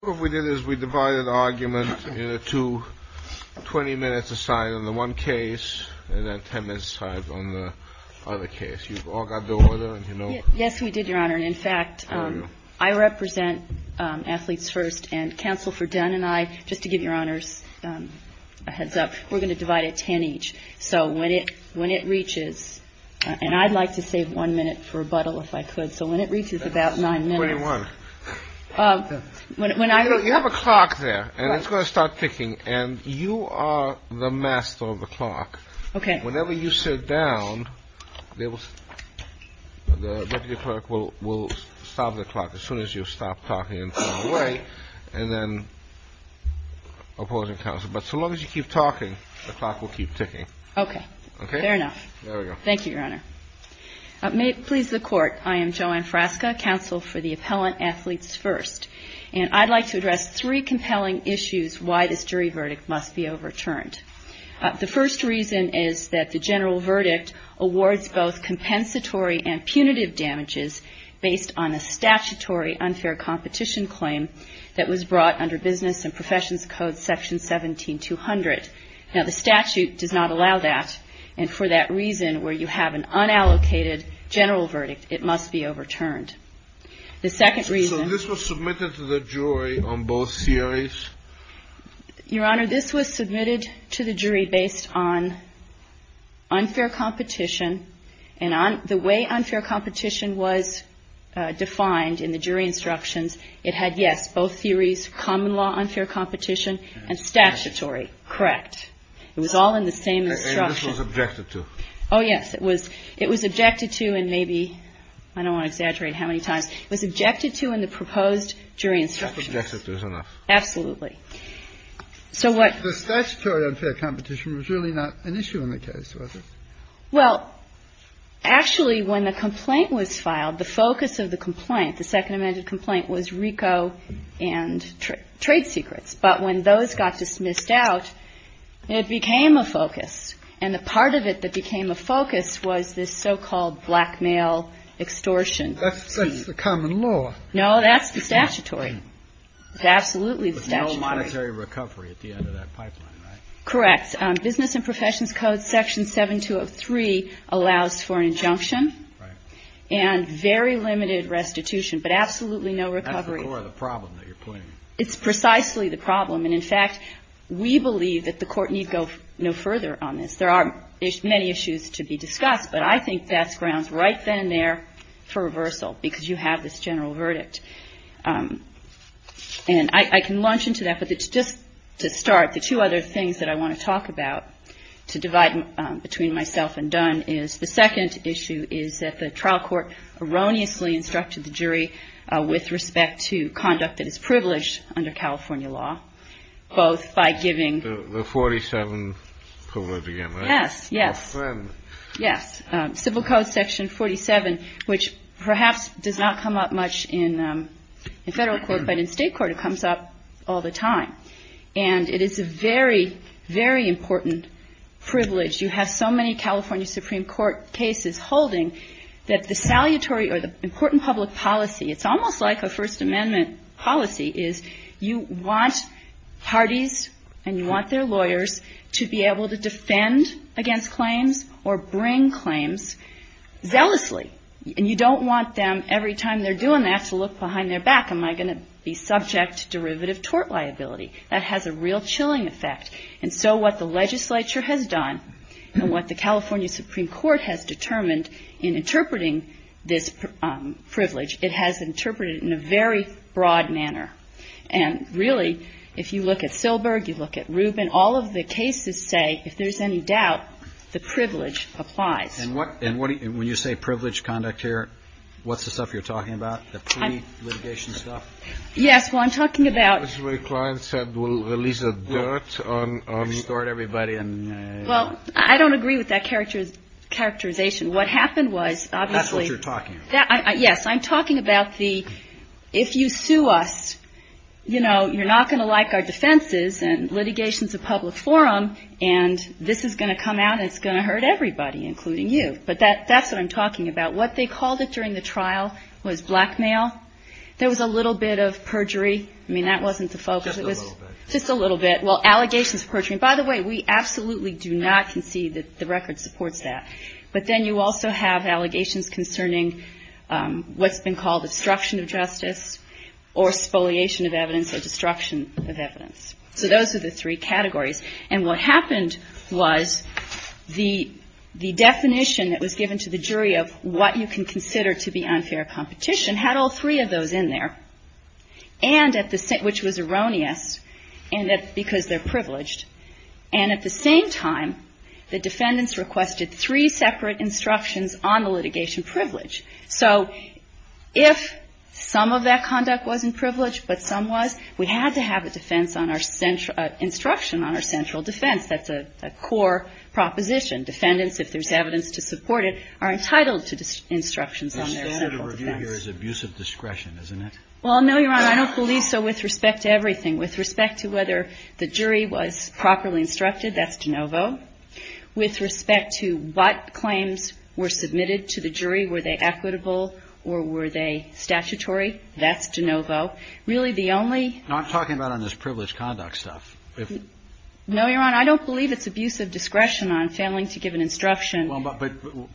What we did is we divided the argument into 20 minutes a side on the one case and then 10 minutes a side on the other case. You all got the order? Yes, we did, Your Honor. And, in fact, I represent Athletes First and counsel for Jen and I. Just to give Your Honors a heads up, we're going to divide it 10 each. So when it reaches, and I'd like to save one minute for rebuttal if I could. So when it reaches about nine minutes. 21. You have a clock there and it's going to start ticking and you are the master of the clock. Okay. Whenever you sit down, the clock will stop the clock as soon as you stop talking and turn away and then opposing counsel. But so long as you keep talking, the clock will keep ticking. Okay. Okay? Fair enough. There we go. Thank you, Your Honor. May it please the Court. I am Joanne Frasca, counsel for the appellant, Athletes First. And I'd like to address three compelling issues why this jury verdict must be overturned. The first reason is that the general verdict awards both compensatory and punitive damages based on a statutory unfair competition claim that was brought under Business and Professions Code, Section 17200. Now, the statute does not allow that. And for that reason, where you have an unallocated general verdict, it must be overturned. The second reason... So this was submitted to the jury on both theories? Your Honor, this was submitted to the jury based on unfair competition. And the way unfair competition was defined in the jury instructions, it had, yes, both theories, common law unfair competition and statutory. Correct. It was all in the same instruction. And this was objected to? Oh, yes. It was objected to and maybe... I don't want to exaggerate how many times. It was objected to in the proposed jury instructions. That's objected to, isn't it? Absolutely. So what... The statutory unfair competition was really not an issue in the case, was it? Well, actually, when the complaint was filed, the focus of the complaint, the second amended complaint, was RICO and trade secrets. But when those got dismissed out, it became a focus. And the part of it that became a focus was this so-called blackmail extortion. That's the common law. No, that's the statutory. It's absolutely the statutory. There's no monetary recovery at the end of that pipeline, right? Correct. Yes. Business and professions code section 7203 allows for an injunction. Right. And very limited restitution, but absolutely no recovery. That's the core of the problem that you're putting. It's precisely the problem. And, in fact, we believe that the court need go no further on this. There are many issues to be discussed, but I think that's grounds right then and there for reversal because you have this general verdict. And I can launch into that, but just to start, the two other things that I want to talk about, to divide between myself and Don, is the second issue is that the trial court erroneously instructed the jury with respect to conduct that is privileged under California law. Both by giving. The 47. Yes. Yes. Civil Code section 47, which perhaps does not come up much in federal court, but in state court it comes up all the time. And it is a very, very important privilege. You have so many California Supreme Court cases holding that the salutary or the important public policy, it's almost like a First Amendment policy, is you want parties and you want their lawyers to be able to defend against claims or bring claims zealously. And you don't want them, every time they're doing that, to look behind their back. Am I going to be subject to derivative tort liability? That has a real chilling effect. And so what the legislature has done, and what the California Supreme Court has determined in interpreting this privilege, it has interpreted it in a very broad manner. And really, if you look at Silberg, you look at Rubin, all of the cases say, if there's any doubt, the privilege applies. And when you say privilege conduct here, what's the stuff you're talking about? The pre-litigation stuff? Yes. That's what I'm talking about. That's where the client said, we'll release a warrant on you. We'll start everybody and... Well, I don't agree with that characterization. What happened was, obviously... That's what you're talking about. Yes. I'm talking about the, if you sue us, you know, you're not going to like our defenses and litigations of public forum, and this is going to come out and it's going to hurt everybody, including you. But that's what I'm talking about. What they called it during the trial was blackmail. There was a little bit of perjury. I mean, that wasn't the focus. Just a little bit. Just a little bit. Well, allegations of perjury. And by the way, we absolutely do not concede that the record supports that. But then you also have allegations concerning what's been called obstruction of justice or exfoliation of evidence or destruction of evidence. So those are the three categories. And what happened was the definition that was given to the jury of what you can consider to be unfair competition had all three of those in there, which was erroneous, and that's because they're privileged. And at the same time, the defendants requested three separate instructions on the litigation privilege. So if some of that conduct wasn't privileged but some was, we had to have an instruction on our central defense. That's a core proposition. Defendants, if there's evidence to support it, are entitled to instructions on their central defense. The standard of review here is abuse of discretion, isn't it? Well, no, Your Honor. I don't believe so with respect to everything. With respect to whether the jury was properly instructed, that's de novo. With respect to what claims were submitted to the jury, were they equitable or were they statutory, that's de novo. Really, the only- I'm talking about on this privileged conduct stuff. No, Your Honor. I don't believe it's abuse of discretion on failing to give an instruction.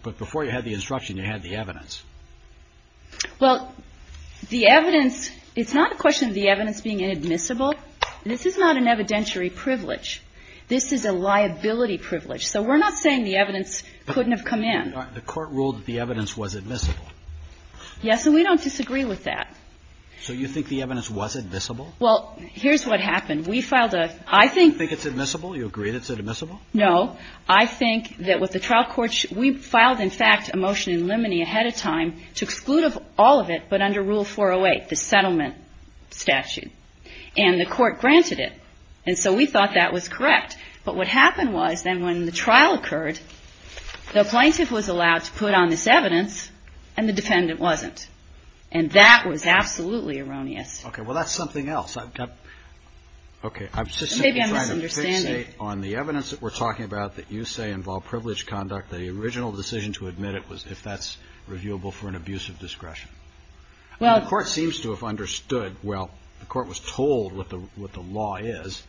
But before you had the instruction, you had the evidence. Well, the evidence-it's not a question of the evidence being admissible. This is not an evidentiary privilege. This is a liability privilege. So we're not saying the evidence couldn't have come in. The court ruled that the evidence was admissible. Yes, and we don't disagree with that. So you think the evidence was admissible? Well, here's what happened. We filed a-I think- You think it's admissible? You agree it's admissible? No. I think that with the trial court-we filed, in fact, a motion in limine ahead of time to exclude all of it but under Rule 408, the settlement statute. And the court granted it. And so we thought that was correct. But what happened was then when the trial occurred, the plaintiff was allowed to put on this evidence and the defendant wasn't. And that was absolutely erroneous. Okay, well, that's something else. I've got- Okay, I'm just- Maybe I'm not understanding. On the evidence that we're talking about that you say involved privilege conduct, the original decision to admit it was if that's reviewable for an abuse of discretion. Well- The court seems to have understood-well, the court was told what the law is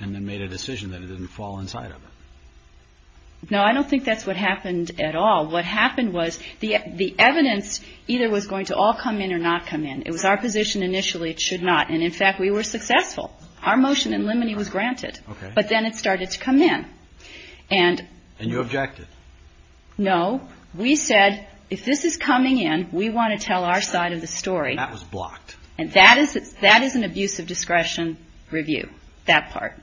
and then made a decision that it didn't fall inside of it. No, I don't think that's what happened at all. What happened was the evidence either was going to all come in or not come in. It was our position initially it should not. And, in fact, we were successful. Our motion in limine was granted. Okay. But then it started to come in. And- And you objected. No. We said if this is coming in, we want to tell our side of the story. That was blocked. And that is an abuse of discretion review, that part.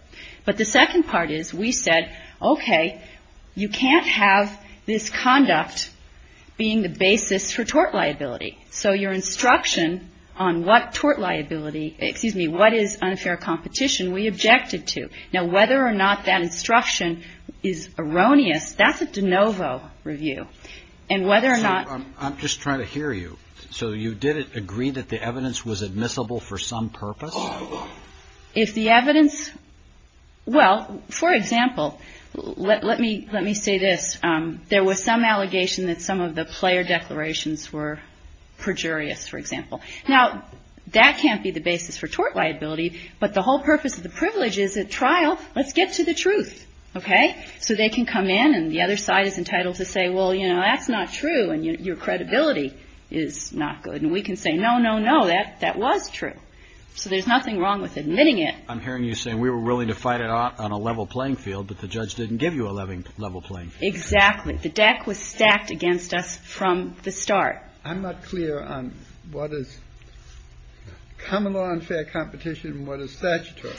But the second part is we said, okay, you can't have this conduct being the basis for tort liability. So your instruction on what tort liability-excuse me, what is unfair competition, we objected to. Now, whether or not that instruction is erroneous, that's a de novo review. And whether or not- I'm just trying to hear you. So you did agree that the evidence was admissible for some purpose? If the evidence-well, for example, let me say this. There was some allegation that some of the player declarations were perjurious, for example. Now, that can't be the basis for tort liability. But the whole purpose of the privilege is at trial, let's get to the truth. Okay? So they can come in and the other side is entitled to say, well, you know, that's not true and your credibility is not good. And we can say, no, no, no, that was true. So there's nothing wrong with admitting it. I'm hearing you say we were willing to fight it out on a level playing field, but the judge didn't give you a level playing field. Exactly. The deck was sacked against us from the start. I'm not clear on what is common law unfair competition and what is statutory.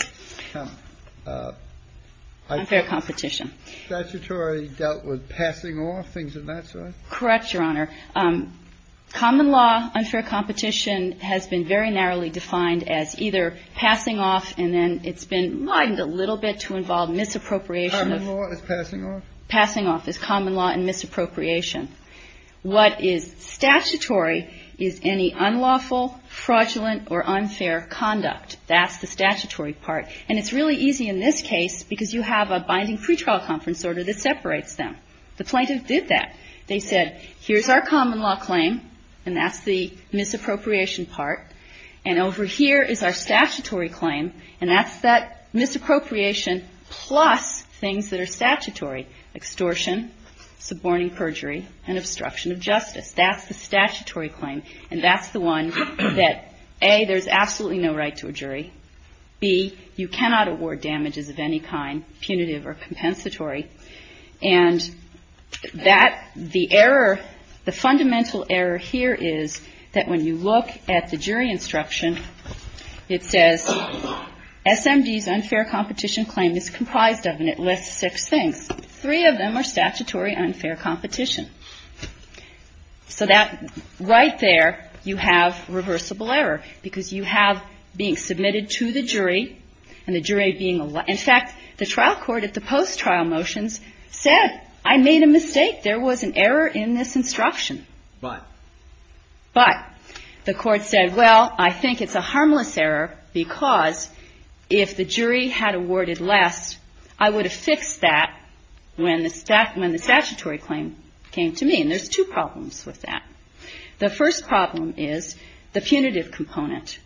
Unfair competition. Statutory dealt with passing off, things of that sort? Correct, Your Honor. Common law unfair competition has been very narrowly defined as either passing off and then it's been widened a little bit to involve misappropriation. Common law is passing off? Passing off is common law and misappropriation. What is statutory is any unlawful, fraudulent or unfair conduct. That's the statutory part. And it's really easy in this case because you have a binding pretrial conference order that separates them. The plaintiffs did that. They said, here's our common law claim and that's the misappropriation part. And over here is our statutory claim and that's that misappropriation plus things that are statutory. Extortion, suborning perjury and obstruction of justice. That's the statutory claim. And that's the one that, A, there's absolutely no right to a jury. B, you cannot award damages of any kind, punitive or compensatory. And that, the error, the fundamental error here is that when you look at the jury instruction, it says, SMB's unfair competition claim is comprised of, and it lists six things. Three of them are statutory unfair competition. So that, right there, you have reversible error. Because you have being submitted to the jury and the jury being, In fact, the trial court at the post-trial motions said, I made a mistake. There was an error in this instruction. But? But the court said, well, I think it's a harmless error because if the jury had awarded less, I would have fixed that when the statutory claim came to me. And there's two problems with that. The first problem is the punitive component.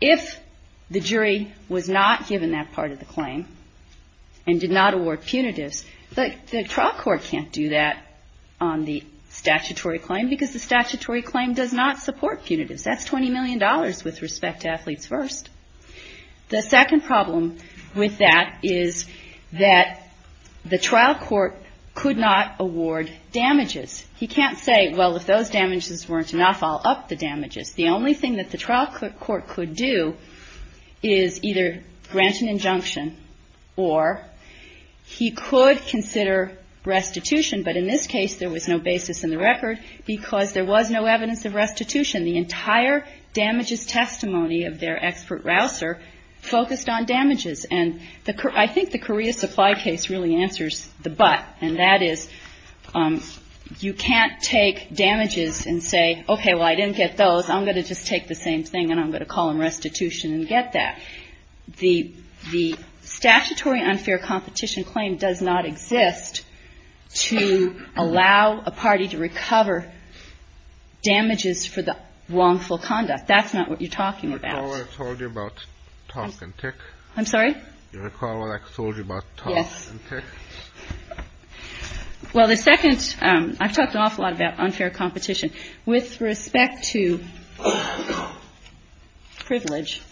If the jury was not given that part of the claim and did not award punitive, the trial court can't do that on the statutory claim because the statutory claim does not support punitive. That's $20 million with respect to athlete first. The second problem with that is that the trial court could not award damages. He can't say, well, if those damages weren't enough, I'll up the damages. The only thing that the trial court could do is either grant an injunction or he could consider restitution. But in this case, there was no basis in the record because there was no evidence of restitution. The entire damages testimony of their expert rouser focused on damages. And I think the Korea Supply case really answers the but. And that is you can't take damages and say, okay, well, I didn't get those. I'm going to just take the same thing and I'm going to call them restitution and get that. The statutory unfair competition claim does not exist to allow a party to recover damages for the wrongful conduct. That's not what you're talking about. I'm sorry. Well, the second I've talked an awful lot about unfair competition with respect to privilege.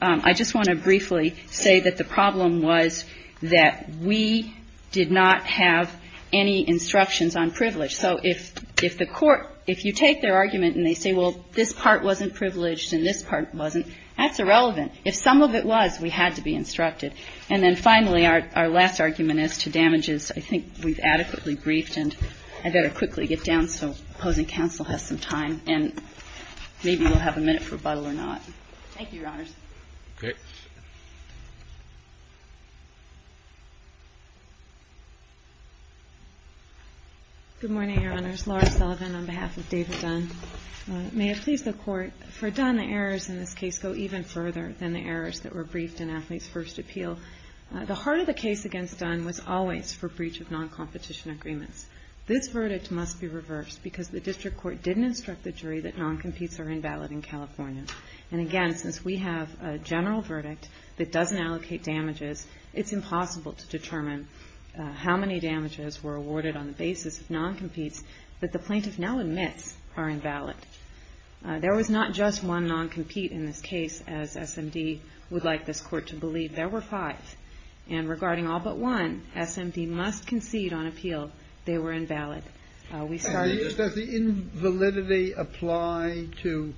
I just want to briefly say that the problem was that we did not have any instructions on privilege. So if the court, if you take their argument and they say, well, this part wasn't privileged and this part wasn't, that's irrelevant. If some of it was, we had to be instructed. And then finally, our last argument is to damages. I think we've adequately briefed. And I better quickly get down so opposing counsel has some time and maybe we'll have a minute for rebuttal or not. Thank you, Your Honors. Okay. Good morning, Your Honors. Laura Sullivan on behalf of David Dunn. May it please the Court, for Dunn, the errors in this case go even further than the errors that were briefed in Athlete's First Appeal. The heart of the case against Dunn was always for breach of non-competition agreements. This verdict must be reversed because the district court didn't instruct the jury that non-competes are invalid in California. And again, since we have a general verdict that doesn't allocate damages, it's impossible to determine how many damages were awarded on the basis of non-competes that the plaintiff now admits are invalid. There was not just one non-compete in this case, as SMD would like this court to believe. There were five. And regarding all but one, SMD must concede on appeal they were invalid. Does the invalidity apply to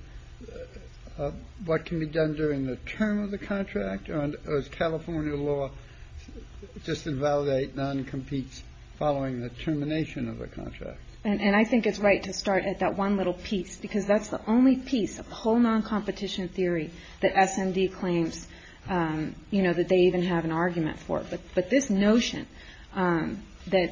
what can be done during the term of the contract? Or does California law disinvalidate non-competes following the termination of the contract? And I think it's right to start at that one little piece, because that's the only piece of the whole non-competition theory that SMD claims, you know, that they even have an argument for. But this notion that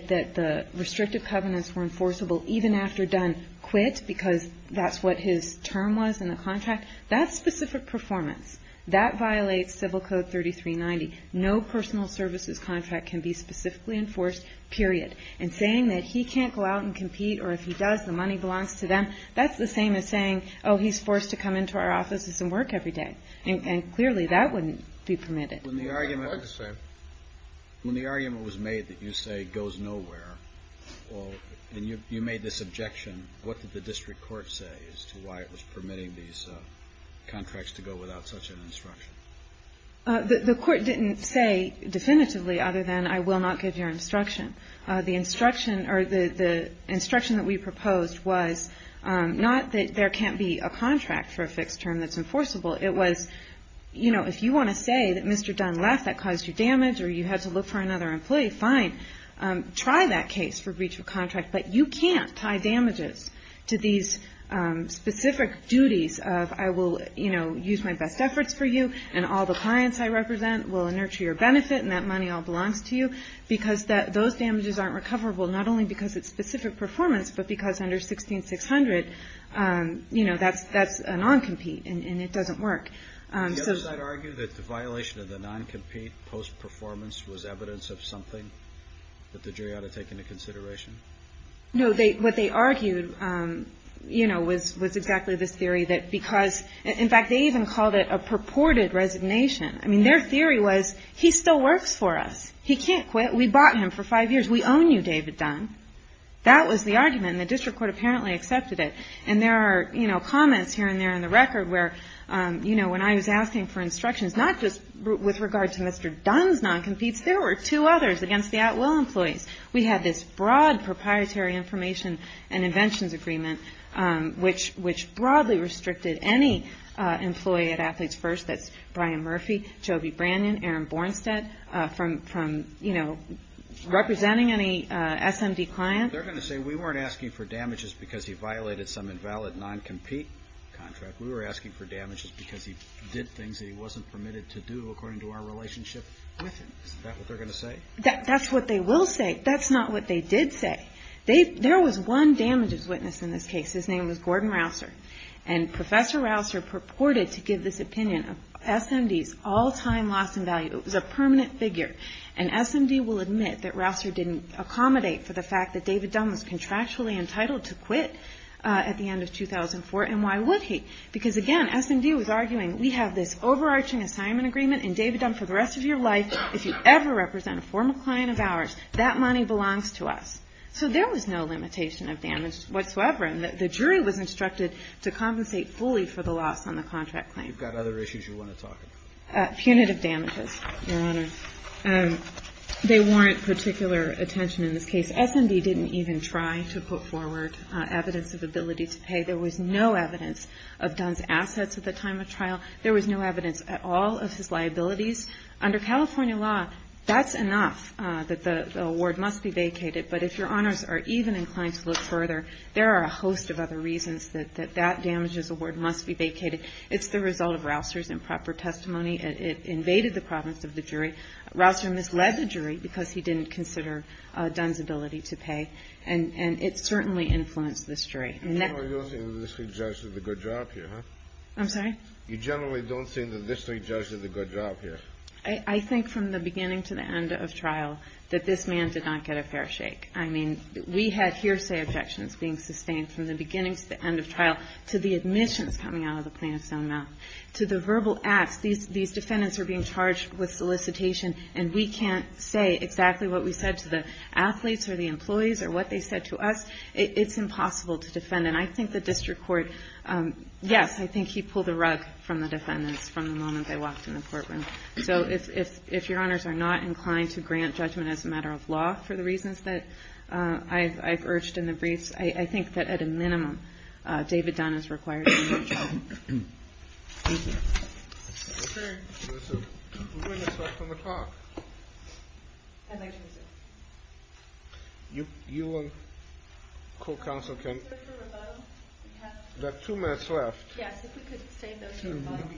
the restrictive covenants were enforceable even after Dunn quit because that's what his term was in the contract, that's specific performance. That violates Civil Code 3390. No personal services contract can be specifically enforced, period. And saying that he can't go out and compete or if he does, the money belongs to them, that's the same as saying, oh, he's forced to come into our offices and work every day. And clearly, that wouldn't be permitted. When the argument was made that you say goes nowhere, and you made this objection, what did the district court say as to why it was permitting these contracts to go without such an instruction? The court didn't say definitively other than I will not give your instruction. The instruction that we proposed was not that there can't be a contract for a fixed term that's enforceable. It was, you know, if you want to say that Mr. Dunn left, that caused you damage or you had to look for another employee, fine. Try that case for breach of contract, but you can't tie damages to these specific duties of I will, you know, use my best efforts for you and all the clients I represent will nurture your benefit and that money all belongs to you because those damages aren't recoverable, not only because it's specific performance, but because under 16600, you know, that's a non-compete and it doesn't work. Did the other side argue that the violation of the non-compete post-performance was evidence of something that the jury ought to take into consideration? No, what they argued, you know, was exactly the theory that because, in fact, they even called it a purported resignation. I mean, their theory was he still works for us. He can't quit. We bought him for five years. We own you, David Dunn. That was the argument, and the district court apparently accepted it. And there are, you know, comments here and there in the record where, you know, when I was asking for instructions, not just with regard to Mr. Dunn's non-compete, there were two others against the at-will employee. We had this broad proprietary information and inventions agreement, which broadly restricted any employee at Athletes First that Brian Murphy, Toby Brannan, Aaron Bornstedt from, you know, representing any SMV clients. They're going to say we weren't asking for damages because he violated some invalid non-compete contract. We were asking for damages because he did things that he wasn't permitted to do according to our relationship. Is that what they're going to say? That's what they will say. That's not what they did say. There was one damages witness in this case. His name was Gordon Rouser, and Professor Rouser purported to give this opinion of SMV's all-time loss in value. It was a permanent figure, and SMV will admit that Rouser didn't accommodate for the fact that David Dunn was contractually entitled to quit at the end of 2004. And why was he? Because, again, SMV was arguing we have this overarching assignment agreement, and David Dunn, for the rest of your life, if you ever represent a formal client of ours, that money belongs to us. So there was no limitation of damage whatsoever, and the jury was instructed to compensate fully for the loss on the contract claim. You've got other issues you want to talk about? Punitive damages, Your Honor. They warrant particular attention in this case. SMV didn't even try to put forward evidence of ability to pay. There was no evidence of Dunn's assets at the time of trial. There was no evidence at all of his liabilities. Under California law, that's enough that the award must be vacated, but if Your Honors are even inclined to look further, there are a host of other reasons that that damages award must be vacated. It's the result of Rouser's improper testimony. It invaded the province of the jury. Rouser misled the jury because he didn't consider Dunn's ability to pay, and it certainly influenced this jury. You generally don't think the district judge did a good job here, huh? I'm sorry? You generally don't think the district judge did a good job here. I think from the beginning to the end of trial that this man did not get a fair shake. I mean, we had hearsay objections being sustained from the beginning to the end of trial, to the admissions coming out of the plaintiff's own mouth, to the verbal acts. These defendants are being charged with solicitation, and we can't say exactly what we said to the athletes or the employees or what they said to us. It's impossible to defend, and I think the district court, yes, I think he pulled the rug from the defendant from the moment they walked in the courtroom. So if Your Honors are not inclined to grant judgment as a matter of law for the reasons that I've urged in the brief, I think that at a minimum, David Dunn is required to do his job. Thank you. Okay. We're going to stop for the talk. I'd like to. You will co-counsel? There are two minutes left.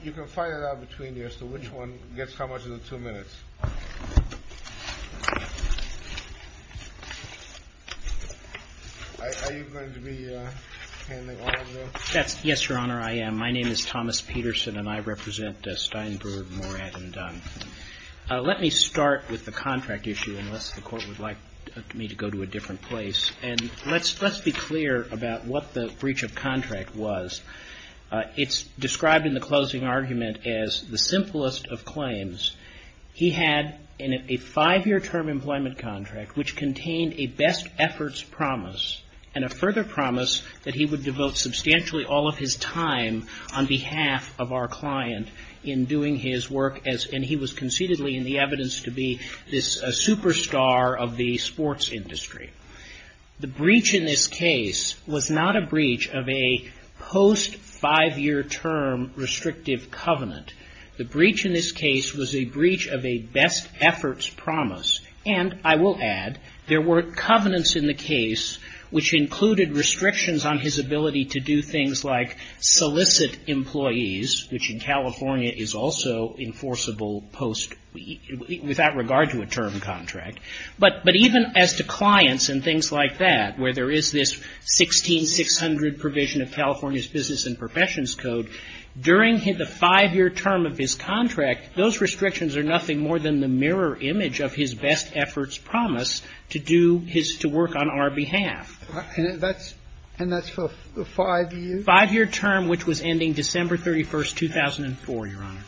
You can find it out between there. So which one gets how much of the two minutes? Are you going to be handing it over? Yes, Your Honor, I am. My name is Thomas Peterson, and I represent Steinberg, Morag, and Dunn. Let me start with the contract issue, unless the court would like me to go to a different place. And let's be clear about what the breach of contract was. It's described in the closing argument as the simplest of claims. He had a five-year term employment contract, which contained a best efforts promise and a further promise that he would devote substantially all of his time on behalf of our client in doing his work, and he was concededly in the evidence to be a superstar of the sports industry. The breach in this case was not a breach of a post five-year term restrictive covenant. The breach in this case was a breach of a best efforts promise. And I will add, there were covenants in the case which included restrictions on his ability to do things like solicit employees, which in California is also enforceable without regard to a term contract. But even as to clients and things like that, where there is this 16-600 provision of California's business and professions code, during the five-year term of his contract, those restrictions are nothing more than the mirror image of his best efforts promise to work on our behalf. And that's for five years? The five-year term, which was ending December 31st, 2004, Your Honor.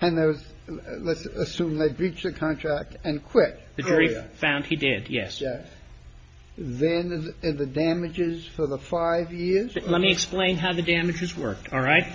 And let's assume they breached the contract and quit. The jury found he did, yes. Then the damages for the five years? Let me explain how the damages worked, all right?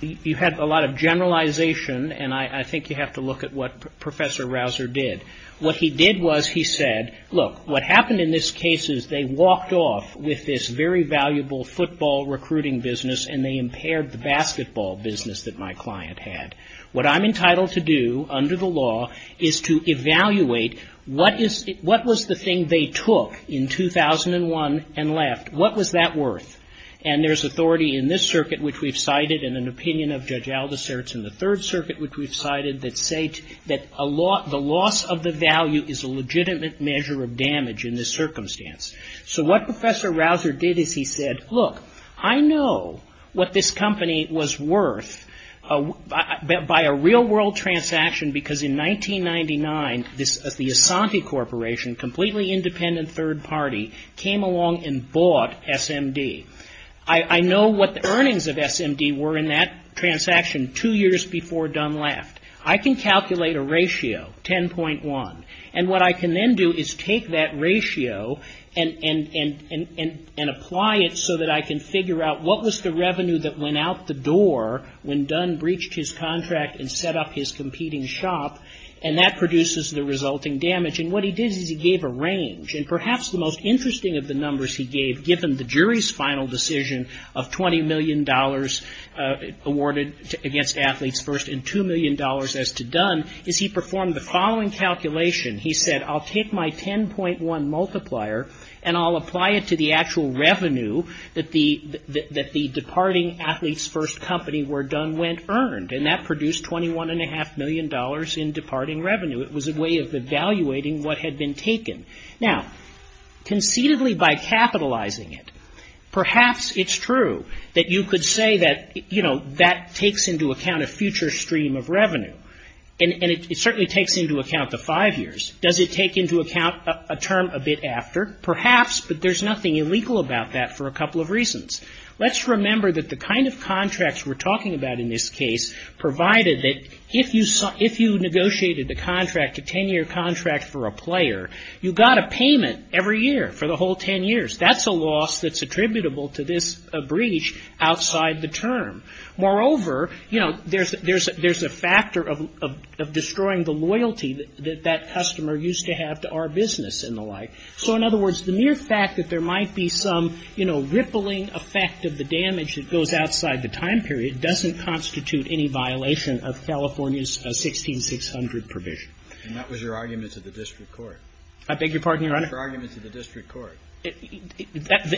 You have a lot of generalization, and I think you have to look at what Professor Rausser did. What he did was he said, look, what happened in this case is they walked off with this very valuable football recruiting business, and they impaired the basketball business that my client had. What I'm entitled to do, under the law, is to evaluate what was the thing they took in 2001 and left. What was that worth? And there's authority in this circuit, which we've cited, and an opinion of Judge Aldous Hertz, and the Third Circuit, which we've cited, that states that the loss of the value is a legitimate measure of damage in this circumstance. So, what Professor Rausser did is he said, look, I know what this company was worth by a real-world transaction, because in 1999, the Asante Corporation, a completely independent third party, came along and bought SMD. I know what the earnings of SMD were in that transaction two years before Dunn left. I can calculate a ratio, 10.1, and what I can then do is take that ratio and apply it so that I can figure out what was the revenue that went out the door when Dunn breached his contract and set up his competing shop, and that produces the resulting damage. And what he did is he gave a range. And perhaps the most interesting of the numbers he gave, given the jury's final decision of $20 million awarded against Athletes First and $2 million as to Dunn, is he performed the following calculation. He said, I'll take my 10.1 multiplier and I'll apply it to the actual revenue that the departing Athletes First company where Dunn went earned, and that produced $21.5 million in departing revenue. It was a way of evaluating what had been taken. Now, conceivably by capitalizing it, perhaps it's true that you could say that, you know, that takes into account a future stream of revenue, and it certainly takes into account the five years. Does it take into account a term a bit after? Perhaps, but there's nothing illegal about that for a couple of reasons. Let's remember that the kind of contracts we're talking about in this case provided that if you negotiated the contract, a 10-year contract for a player, you got a payment every year for the whole 10 years. That's a loss that's attributable to this breach outside the term. Moreover, you know, there's a factor of destroying the loyalty that that customer used to have to our business and the like. So, in other words, the mere fact that there might be some, you know, And that was your argument to the district court. I beg your pardon, Your Honor? That was your argument to the district court.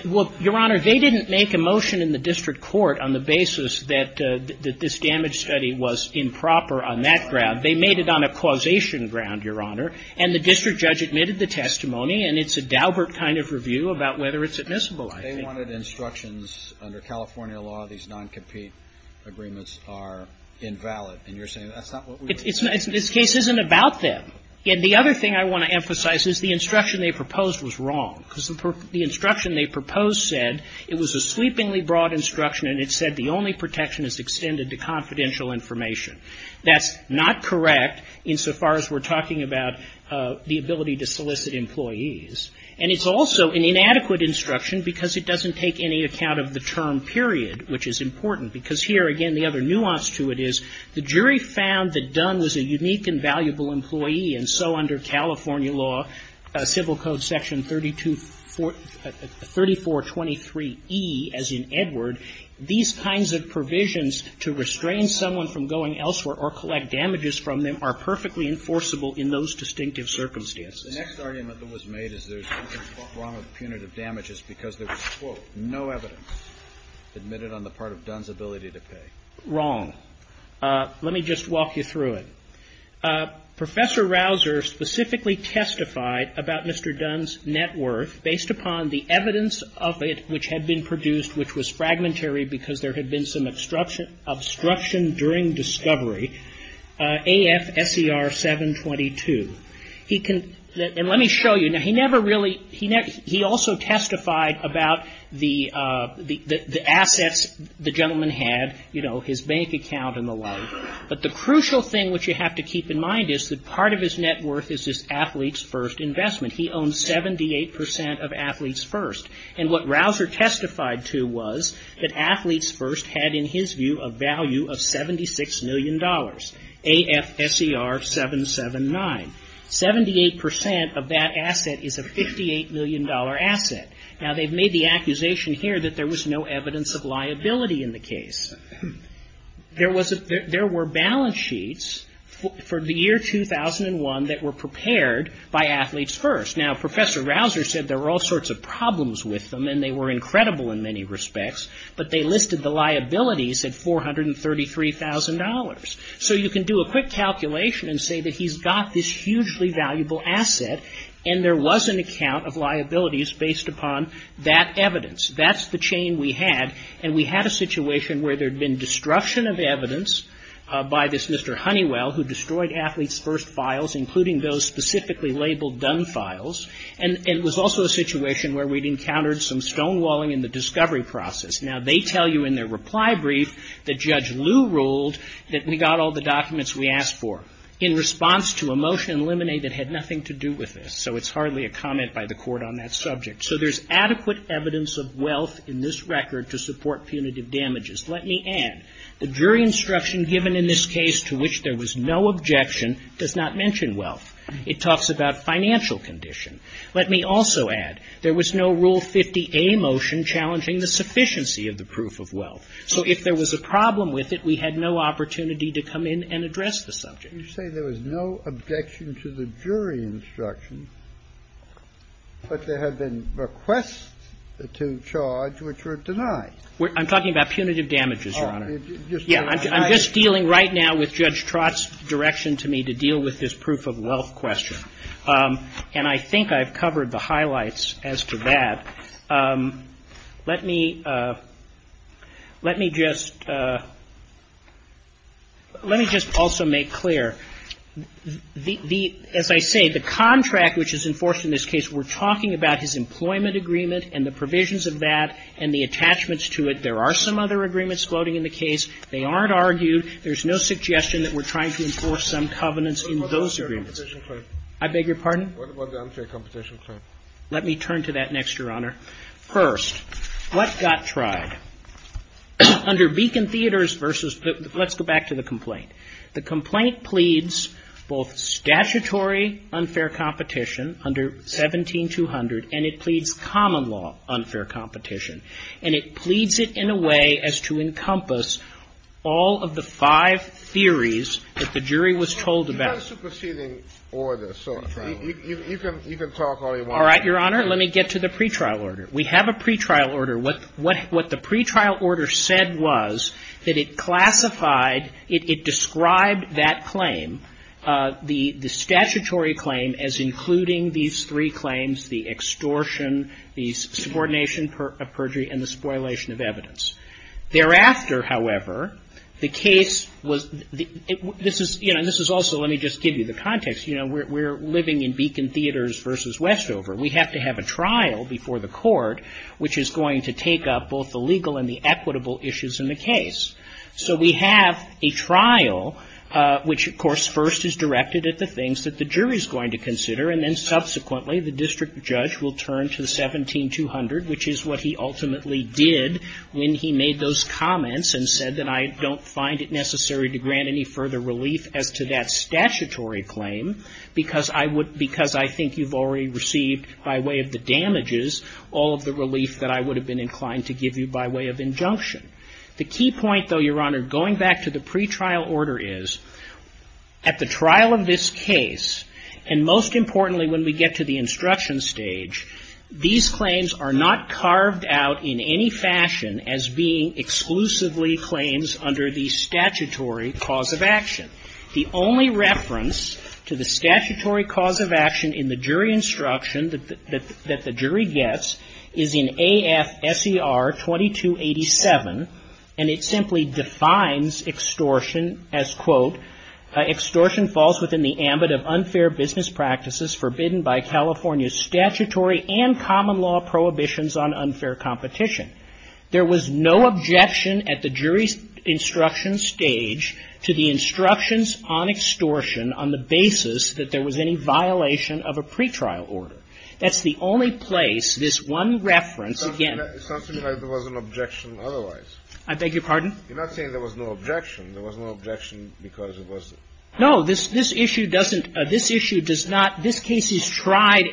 Well, Your Honor, they didn't make a motion in the district court on the basis that this damage study was improper on that ground. They made it on a causation ground, Your Honor, and the district judge admitted the testimony, and it's a Daubert kind of review about whether it's admissible, I think. They wanted instructions under California law these non-compete agreements are invalid, and you're saying that's not what we're saying. This case isn't about them. And the other thing I want to emphasize is the instruction they proposed was wrong, because the instruction they proposed said it was a sleepingly broad instruction, and it said the only protection is extended to confidential information. That's not correct insofar as we're talking about the ability to solicit employees. And it's also an inadequate instruction because it doesn't take any account of the term period, which is important, because here, again, the other nuance to it is the jury found that Dunn was a unique and valuable employee, and so under California law, civil code section 3423E, as in Edward, these kinds of provisions to restrain someone from going elsewhere or collect damages from them are perfectly enforceable in those distinctive circumstances. The next argument that was made is there's something wrong with punitive damages because there was, quote, no evidence admitted on the part of Dunn's ability to pay. Wrong. Let me just walk you through it. Professor Rausser specifically testified about Mr. Dunn's net worth based upon the evidence of it which had been produced, which was fragmentary because there had been some obstruction during discovery, AFSER 722. And let me show you. Now, he also testified about the assets the gentleman had, you know, his bank account and the like. But the crucial thing which you have to keep in mind is that part of his net worth is his Athletes First investment. He owned 78% of Athletes First. And what Rausser testified to was that Athletes First had in his view a value of $76 million, AFSER 779. 78% of that asset is a $58 million asset. Now, they've made the accusation here that there was no evidence of liability in the case. There were balance sheets for the year 2001 that were prepared by Athletes First. Now, Professor Rausser said there were all sorts of problems with them and they were incredible in many respects, but they lifted the liabilities at $433,000. So, you can do a quick calculation and say that he's got this hugely valuable asset and there was an account of liabilities based upon that evidence. That's the chain we had. And we had a situation where there had been destruction of evidence by this Mr. Honeywell who destroyed Athletes First files including those specifically labeled DUN files. And it was also a situation where we'd encountered some stonewalling in the discovery process. Now, they tell you in their reply brief that Judge Liu ruled that we got all the documents we asked for. In response to a motion eliminated had nothing to do with this. So, it's hardly a comment by the court on that subject. So, there's adequate evidence of wealth in this record to support punitive damages. Let me add, the jury instruction given in this case to which there was no objection does not mention wealth. It talks about financial condition. Let me also add, there was no Rule 50A motion challenging the sufficiency of the proof of wealth. So, if there was a problem with it, we had no opportunity to come in and address the subject. You say there was no objection to the jury instruction, but there had been requests to charge which were denied. I'm talking about punitive damages, Your Honor. I'm just dealing right now with Judge Trott's direction to me to deal with this proof of wealth question. And I think I've covered the highlights as to that. Let me just also make clear, as I say, the contract which is enforced in this case, we're talking about his employment agreement and the provisions of that and the attachments to it. There are some other agreements quoting in the case. They aren't argued. There's no suggestion that we're trying to enforce some covenants in those agreements. I beg your pardon? What about the unfair competition claim? Let me turn to that next, Your Honor. First, what got tried? Under Beacon Theaters versus, let's go back to the complaint. The complaint pleads both statutory unfair competition under 17200 and it pleads common law unfair competition. And it pleads it in a way as to encompass all of the five theories that the jury was told about. You have the proceeding order, so you can talk all you want. All right, Your Honor. Let me get to the pretrial order. We have a pretrial order. What the pretrial order said was that it classified, it described that claim, the statutory claim, as including these three claims, the extortion, the subordination of perjury, and the spoilation of evidence. Thereafter, however, the case was, you know, this is also, let me just give you the context. You know, we're living in Beacon Theaters versus Westover. We have to have a trial before the court, which is going to take up both the legal and the equitable issues in the case. So we have a trial, which, of course, first is directed at the things that the jury is going to consider, and then subsequently the district judge will turn to 17200, which is what he ultimately did when he made those comments and said that I don't find it necessary to grant any further relief to that statutory claim, because I think you've already received, by way of the damages, all of the relief that I would have been inclined to give you by way of injunction. The key point, though, Your Honor, going back to the pretrial order is, at the trial of this case, and most importantly when we get to the instruction stage, these claims are not carved out in any fashion as being exclusively claims under the statutory cause of action. The only reference to the statutory cause of action in the jury instruction that the jury gets is in A.F.S.E.R. 2287, and it simply defines extortion as, quote, extortion falls within the ambit of unfair business practices forbidden by California's statutory and common law prohibitions on unfair competition. There was no objection at the jury's instruction stage to the instructions on extortion on the basis that there was any violation of a pretrial order. That's the only place this one reference, again... It's not as if there was an objection otherwise. I beg your pardon? You're not saying there was no objection. There was no objection because there wasn't. No, this issue doesn't, this issue does not, this case is tried,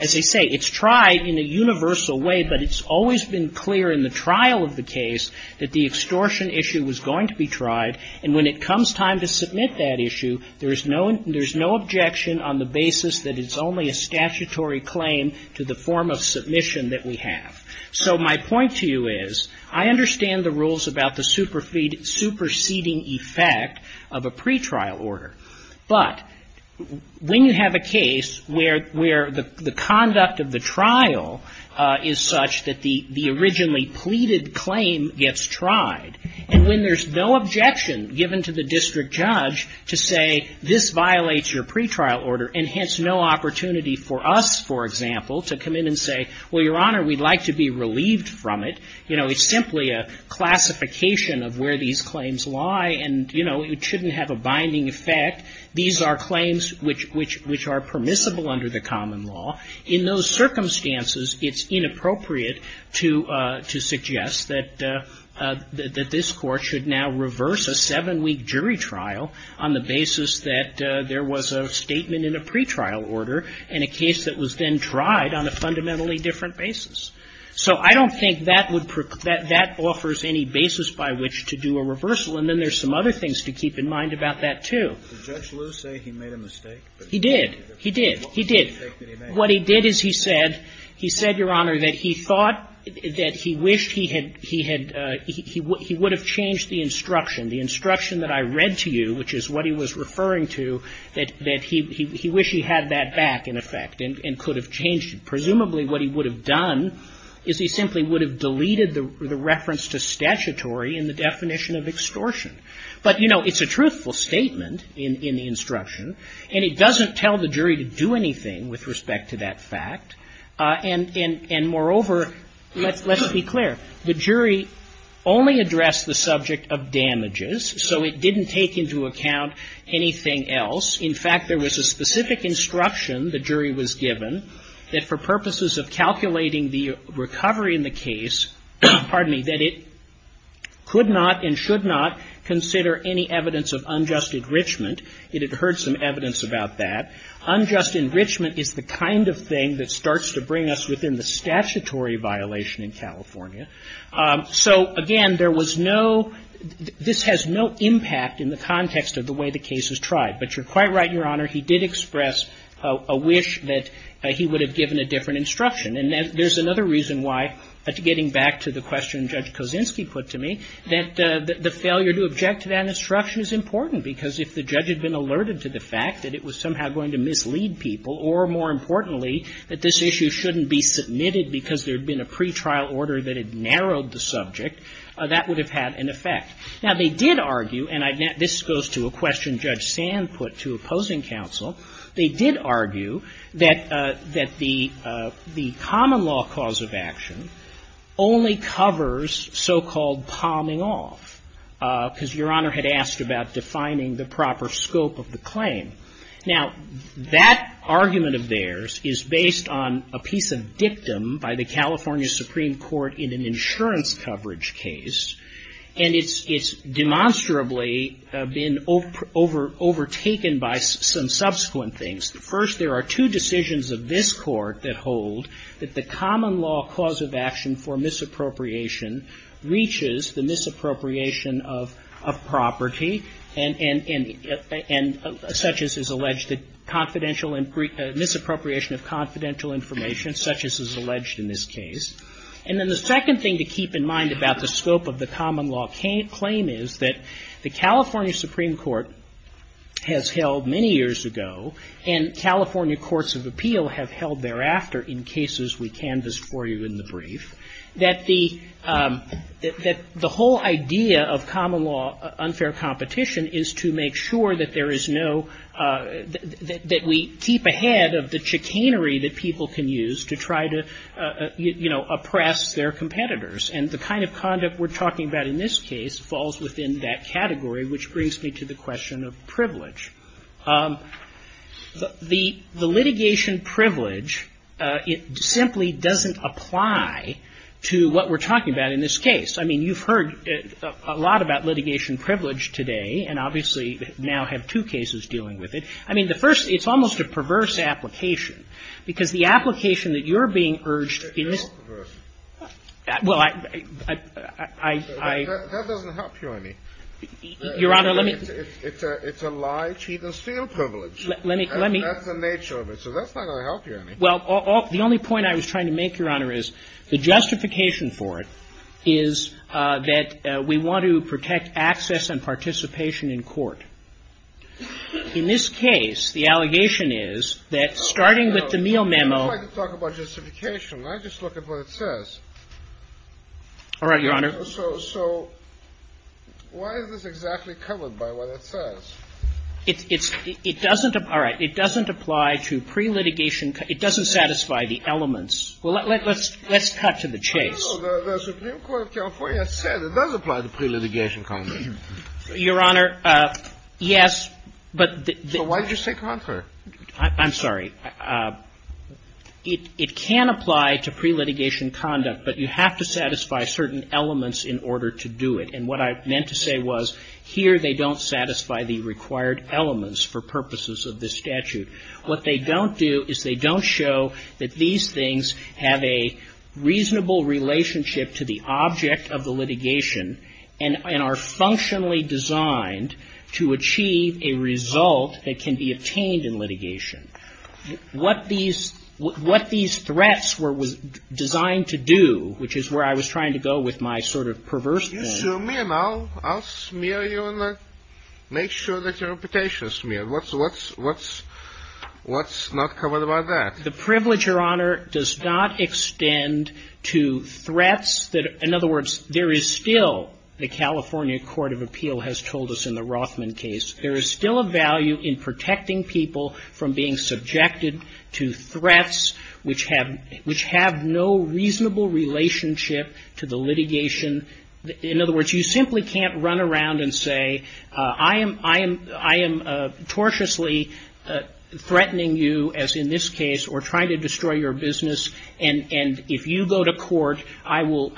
as they say, it's tried in a universal way, but it's always been clear in the trial of the case that the extortion issue was going to be tried, and when it comes time to submit that issue, there's no objection on the basis that it's only a statutory claim to the form of submission that we have. So my point to you is, I understand the rules about the superseding effect of a pretrial order, but when you have a case where the conduct of the trial is such that the originally pleaded claim gets tried, and when there's no objection given to the district judge to say this violates your pretrial order, and hence no opportunity for us, for example, to come in and say, well, your honor, we'd like to be relieved from it, you know, it's simply a classification of where these claims lie, and, you know, it shouldn't have a binding effect. These are claims which are permissible under the common law. In those circumstances, it's inappropriate to suggest that this court should now reverse a seven-week jury trial on the basis that there was a statement in a pretrial order, and a case that was then tried on a fundamentally different basis. So I don't think that offers any basis by which to do a reversal, and then there's some other things to keep in mind about that, too. Did Judge Lew say he made a mistake? He did. He did. What he did is he said, your honor, that he thought that he wished he had, he would have changed the instruction, the instruction that I read to you, which is what he was referring to, that he wished he had that back, in effect, and could have changed it. Presumably what he would have done is he simply would have deleted the reference to statutory in the definition of extortion. But, you know, it's a truthful statement in the instruction, and it doesn't tell the jury to do anything with respect to that fact, and moreover, let's be clear, the jury only addressed the subject of damages, so it didn't take into account anything else. In fact, there was a specific instruction the jury was given that for purposes of calculating the recovery in the case, pardon me, that it could not and should not consider any evidence of unjust enrichment. It had heard some evidence about that. Unjust enrichment is the kind of thing that starts to bring us within the statutory violation in California. So, again, there was no, this has no impact in the context of the way the case was tried, but you're quite right, Your Honor, he did express a wish that he would have given a different instruction. And there's another reason why, getting back to the question Judge Kosinski put to me, that the failure to object to that instruction is important, because if the judge had been alerted to the fact that it was somehow going to mislead people, or more importantly, that this issue shouldn't be submitted because there had been a pretrial order that had narrowed the subject, that would have had an effect. Now, they did argue, and this goes to a question Judge Sand put to opposing counsel, they did argue that the common law cause of action only covers so-called palming off, because Your Honor had asked about defining the proper scope of the claim. Now, that argument of theirs is based on a piece of dictum by the California Supreme Court in an insurance coverage case, and it's demonstrably been overtaken by some subsequent things. First, there are two decisions of this court that hold that the common law cause of action for misappropriation reaches the misappropriation of property, such as is alleged, the misappropriation of confidential information, such as is alleged in this case. And then the second thing to keep in mind about the scope of the common law claim is that the California Supreme Court has held many years ago, and California courts of appeal have held thereafter in cases we canvassed for you in the brief, that the whole idea of common law unfair competition is to make sure that there is no- And the kind of conduct we're talking about in this case falls within that category, which brings me to the question of privilege. The litigation privilege, it simply doesn't apply to what we're talking about in this case. I mean, you've heard a lot about litigation privilege today, and obviously now have two cases dealing with it. I mean, the first, it's almost a perverse application, because the application that you're being urged in this- It's not perverse. Well, I- That doesn't help you any. Your Honor, let me- It's a lie, cheat, or steal privilege. Let me- And that's the nature of it, so that's not going to help you any. Well, the only point I was trying to make, Your Honor, is the justification for it is that we want to protect access and participation in court. In this case, the allegation is that starting with the Neal memo- I'd like to talk about justification, not just look at what it says. All right, Your Honor. So, why is this exactly covered by what it says? It doesn't apply to pre-litigation- It doesn't satisfy the elements. Let's cut to the chase. The Supreme Court of California said it does apply to pre-litigation. Your Honor, yes, but- So, why did you say contrary? I'm sorry. It can apply to pre-litigation conduct, but you have to satisfy certain elements in order to do it. And what I meant to say was, here they don't satisfy the required elements for purposes of this statute. What they don't do is they don't show that these things have a reasonable relationship to the object of the litigation and are functionally designed to achieve a result that can be obtained in litigation. What these threats were designed to do, which is where I was trying to go with my sort of perverse thing- I'll smear you and make sure that your reputation is smeared. What's not covered by that? The privilege, Your Honor, does not extend to threats that- In other words, there is still-the California Court of Appeal has told us in the Rothman case- there is still a value in protecting people from being subjected to threats which have no reasonable relationship to the litigation. In other words, you simply can't run around and say, I am tortuously threatening you, as in this case, or trying to destroy your business. And if you go to court, I will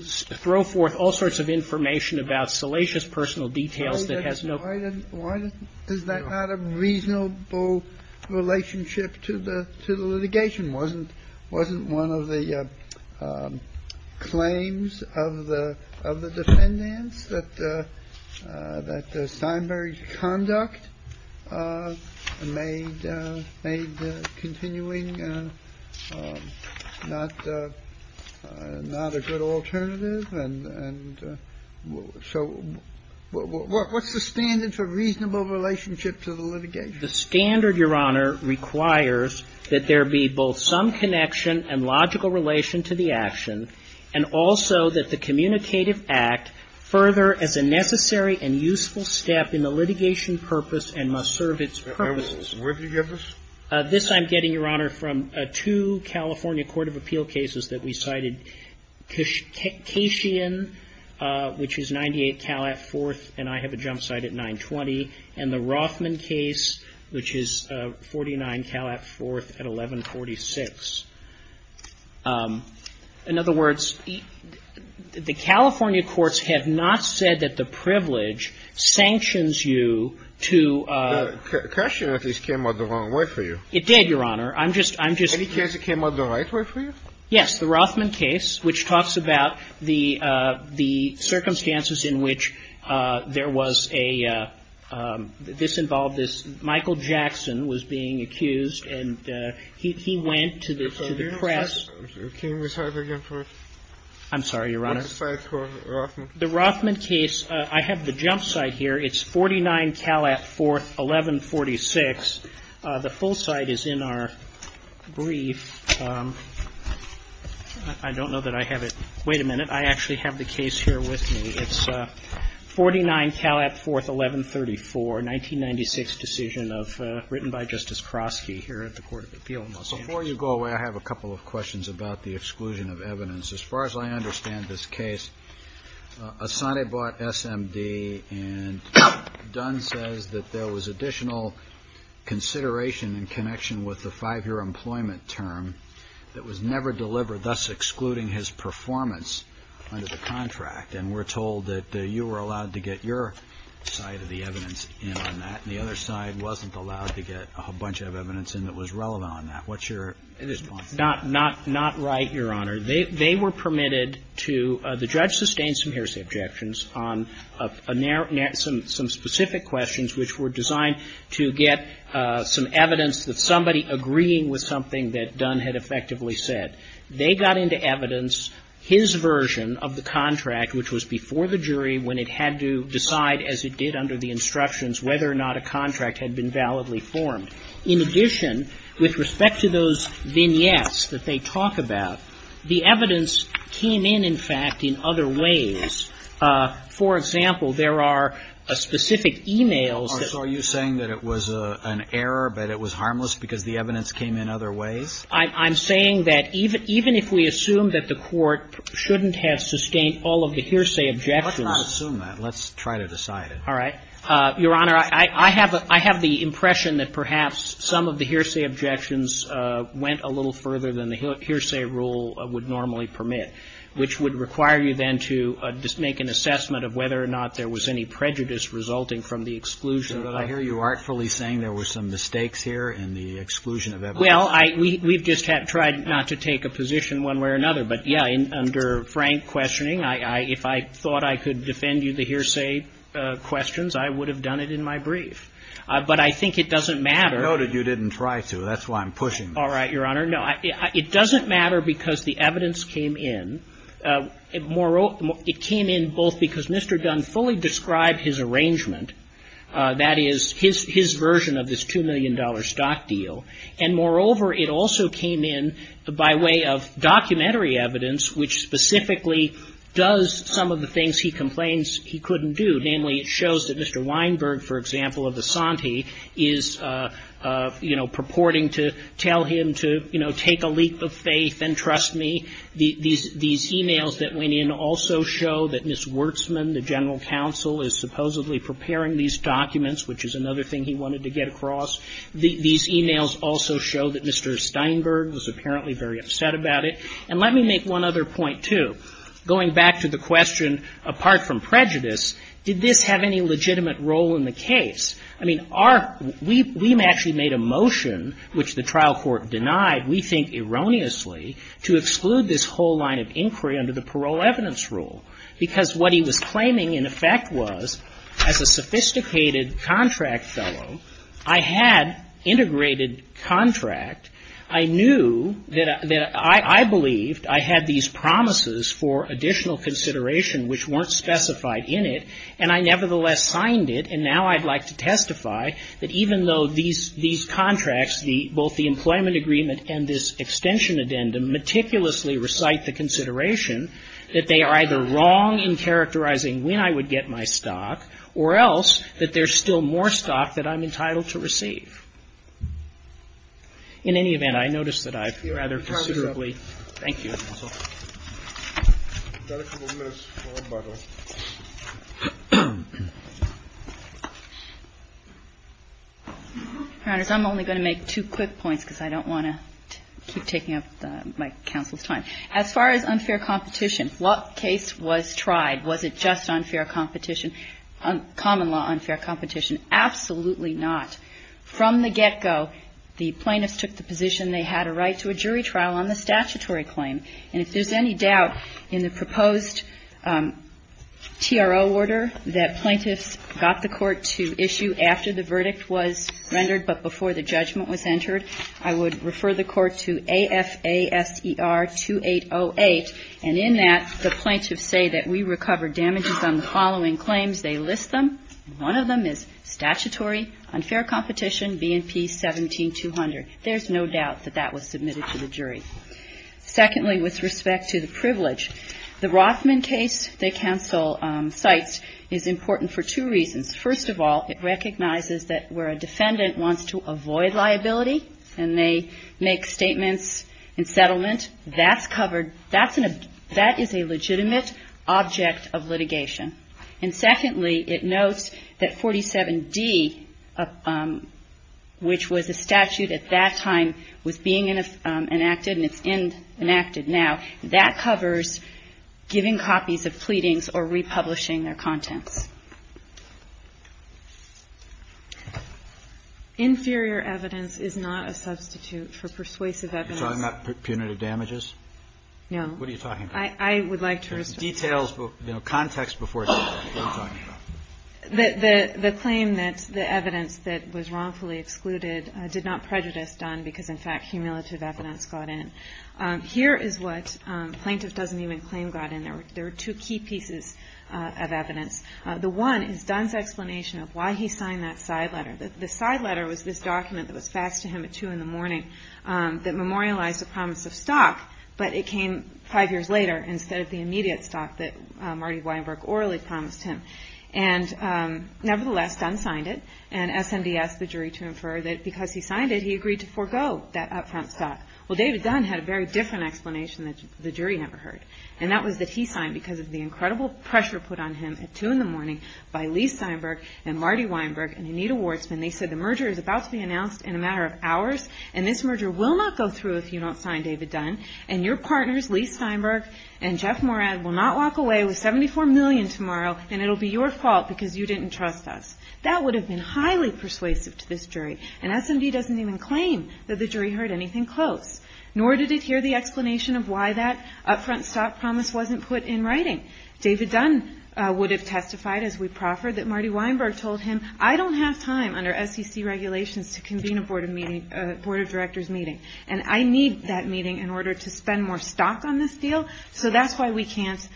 throw forth all sorts of information about salacious personal details that has no- Why is that not a reasonable relationship to the litigation? Wasn't one of the claims of the defendant that Steinberg's conduct made continuing not a good alternative? So what's the standard for reasonable relationship to the litigation? The standard, Your Honor, requires that there be both some connection and logical relation to the action, and also that the communicated act further as a necessary and useful step in the litigation purpose and must serve its purposes. Where did you get this? This I'm getting, Your Honor, from two California Court of Appeal cases that we cited. The Cassian, which is 98 Calat 4th, and I have a jump site at 920. And the Rothman case, which is 49 Calat 4th at 1146. In other words, the California courts have not said that the privilege sanctions you to- The question at least came out the wrong way for you. It did, Your Honor. I'm just- Any case that came out the right way for you? Yes. The Rothman case, which talks about the circumstances in which there was a- This involved this- Michael Jackson was being accused, and he went to the press- Can you recite it again, please? I'm sorry, Your Honor. Recite for Rothman. The Rothman case- I have the jump site here. It's 49 Calat 4th, 1146. The full site is in our brief. I don't know that I have it. Wait a minute. I actually have the case here with me. It's 49 Calat 4th, 1134, 1996 decision of-written by Justice Kroski here at the Court of Appeal. Before you go away, I have a couple of questions about the exclusion of evidence. As far as I understand this case, Assange bought SMD, and Dunn says that there was additional consideration in connection with the five-year employment term that was never delivered, thus excluding his performance under the contract. And we're told that you were allowed to get your side of the evidence in on that, and the other side wasn't allowed to get a whole bunch of evidence in that was relevant on that. What's your response? Not right, Your Honor. They were permitted to-the judge sustained some hearsay objections on some specific questions which were designed to get some evidence that somebody agreeing with something that Dunn had effectively said. They got into evidence, his version of the contract, which was before the jury when it had to decide as it did under the instructions whether or not a contract had been validly formed. In addition, with respect to those vignettes that they talk about, the evidence came in, in fact, in other ways. For example, there are specific e-mails that- So are you saying that it was an error, but it was harmless because the evidence came in other ways? I'm saying that even if we assume that the Court shouldn't have sustained all of the hearsay objections- Let's not assume that. Let's try to decide. All right. Your Honor, I have the impression that perhaps some of the hearsay objections went a little further than the hearsay rule would normally permit, which would require you then to make an assessment of whether or not there was any prejudice resulting from the exclusion. But I hear you artfully saying there were some mistakes here in the exclusion of evidence. Well, we've just tried not to take a position one way or another. But, yeah, under frank questioning, if I thought I could defend you to hearsay questions, I would have done it in my brief. But I think it doesn't matter- I noted you didn't try to. That's why I'm pushing you. All right, Your Honor. No, it doesn't matter because the evidence came in. It came in both because Mr. Dunn fully described his arrangement, that is, his version of this $2 million stock deal, and, moreover, it also came in by way of documentary evidence, which specifically does some of the things he complains he couldn't do. Namely, it shows that Mr. Weinberg, for example, of Asante, is, you know, purporting to tell him to, you know, take a leap of faith and trust me. These emails that went in also show that Ms. Wurzman, the general counsel, is supposedly preparing these documents, which is another thing he wanted to get across. These emails also show that Mr. Steinberg was apparently very upset about it. And let me make one other point, too. Going back to the question, apart from prejudice, did this have any legitimate role in the case? I mean, we actually made a motion, which the trial court denied, we think erroneously, to exclude this whole line of inquiry under the parole evidence rule because what he was claiming, in effect, was, as a sophisticated contract fellow, I had integrated contract. I knew that I believed I had these promises for additional consideration, which weren't specified in it, and I nevertheless signed it, and now I'd like to testify that even though these contracts, both the employment agreement and this extension addendum, meticulously recite the consideration that they are either wrong in characterizing when I would get my stock or else that there's still more stock that I'm entitled to receive. In any event, I notice that I've rather considerably... Thank you, counsel. I'm only going to make two quick points because I don't want to keep taking up my counsel's time. As far as unfair competition, what case was tried? Was it just unfair competition, common law unfair competition? Absolutely not. From the get-go, the plaintiffs took the position they had a right to a jury trial on the statutory claim, and if there's any doubt in the proposed PRO order that plaintiffs got the court to issue after the verdict was rendered but before the judgment was entered, I would refer the court to AFASER 2808, and in that, the plaintiffs say that we recovered damages on the following claims. They list them. One of them is statutory unfair competition, B&P 17200. There's no doubt that that was submitted to the jury. Secondly, with respect to the privilege, the Rossman case that counsel cites is important for two reasons. First of all, it recognizes that where a defendant wants to avoid liability and they make statements in settlement, that is a legitimate object of litigation. And secondly, it notes that 47D, which was a statute at that time was being enacted and is enacted now, that covers giving copies of pleadings or republishing their content. Inferior evidence is not a substitute for persuasive evidence. You're talking about punitive damages? No. What are you talking about? I would like to... Details, you know, context before... The claim that the evidence that was wrongfully excluded did not prejudice Dunn because, in fact, cumulative evidence got in. Here is what plaintiffs doesn't even claim got in. There are two key pieces of evidence. The one is Dunn's explanation of why he signed that side letter. The side letter was this document that was faxed to him at 2 in the morning that memorialized the promise of stock, but it came five years later instead of the immediate stock that Marty Weiberg orally promised him. And, nevertheless, Dunn signed it, and SMD asked the jury to infer that because he signed it, he agreed to forego that upfront stock. Well, David Dunn had a very different explanation that the jury never heard, and that was that he signed because of the incredible pressure put on him at 2 in the morning by Lee Steinberg and Marty Weinberg and Anita Wardson. They said the merger is about to be announced in a matter of hours, and this merger will not go through if you don't sign David Dunn, and your partners, Lee Steinberg and Jeff Morad, will not walk away with $74 million tomorrow, and it will be your fault because you didn't trust us. That would have been highly persuasive to this jury, and SMD doesn't even claim that the jury heard anything close, nor did it hear the explanation of why that upfront stock promise wasn't put in writing. David Dunn would have testified, as we proffered, that Marty Weinberg told him, I don't have time under SEC regulations to convene a board of directors meeting, and I need that meeting in order to spend more stock on this deal, so that's why we can't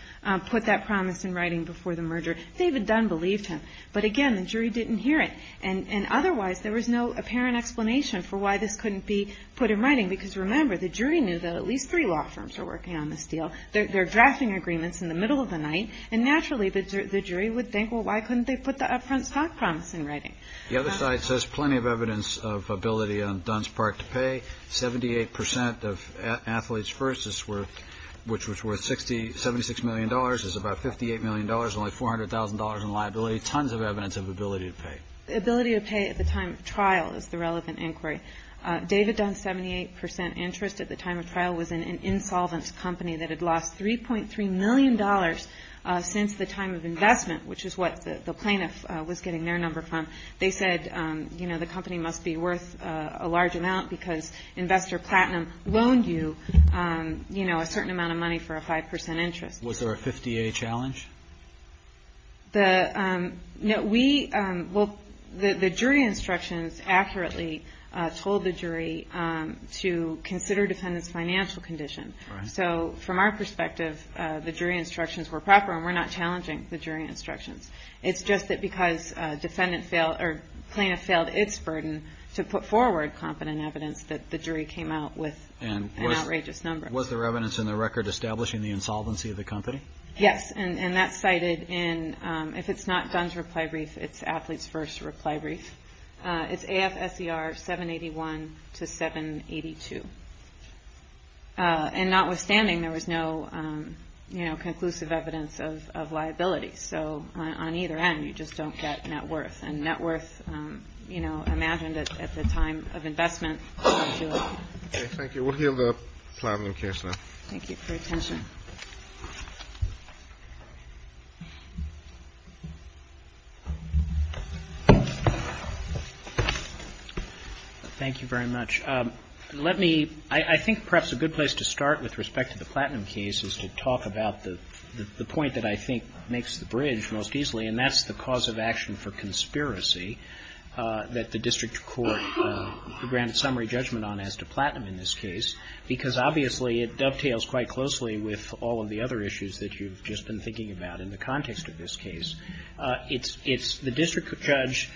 put that promise in writing before the merger. David Dunn believed him, but, again, the jury didn't hear it, and, otherwise, there was no apparent explanation for why this couldn't be put in writing because, remember, the jury knew that at least three law firms were working on this deal. They're drafting agreements in the middle of the night, and, naturally, the jury would think, well, why couldn't they put the upfront stock promise in writing? The other side says plenty of evidence of ability on Dunn's part to pay. Seventy-eight percent of Athletes First's work, which was worth $76 million, is about $58 million, only $400,000 in liability, tons of evidence of ability to pay. Ability to pay at the time of trial is the relevant inquiry. David Dunn's 78 percent interest at the time of trial was in an insolvent company that had lost $3.3 million since the time of investment, which is what the plaintiff was getting their number from. They said, you know, the company must be worth a large amount because investor platinum loaned you, you know, a certain amount of money for a 5 percent interest. Was there a 50-A challenge? The jury instructions accurately told the jury to consider defendant's financial conditions. So, from our perspective, the jury instructions were proper, and we're not challenging the jury instructions. It's just that because plaintiff failed its burden to put forward confident evidence, that the jury came out with an outrageous number. Was there evidence in the record establishing the insolvency of the company? Yes. And that's cited in, if it's not Dunn's reply brief, it's athlete's first reply brief. It's AFSER 781 to 782. And notwithstanding, there was no, you know, conclusive evidence of liability. So, on either end, you just don't get net worth. And net worth, you know, imagined at the time of investment. Okay, thank you. We'll deal with the platinum case now. Thank you for your attention. Thank you very much. Let me, I think perhaps a good place to start with respect to the platinum case is to talk about the point that I think makes the bridge most easily, and that's the cause of action for conspiracy that the district court granted summary judgment on as to platinum in this case. Because, obviously, it dovetails quite closely with all of the other issues that you've just been thinking about in the context of this case. It's the district judge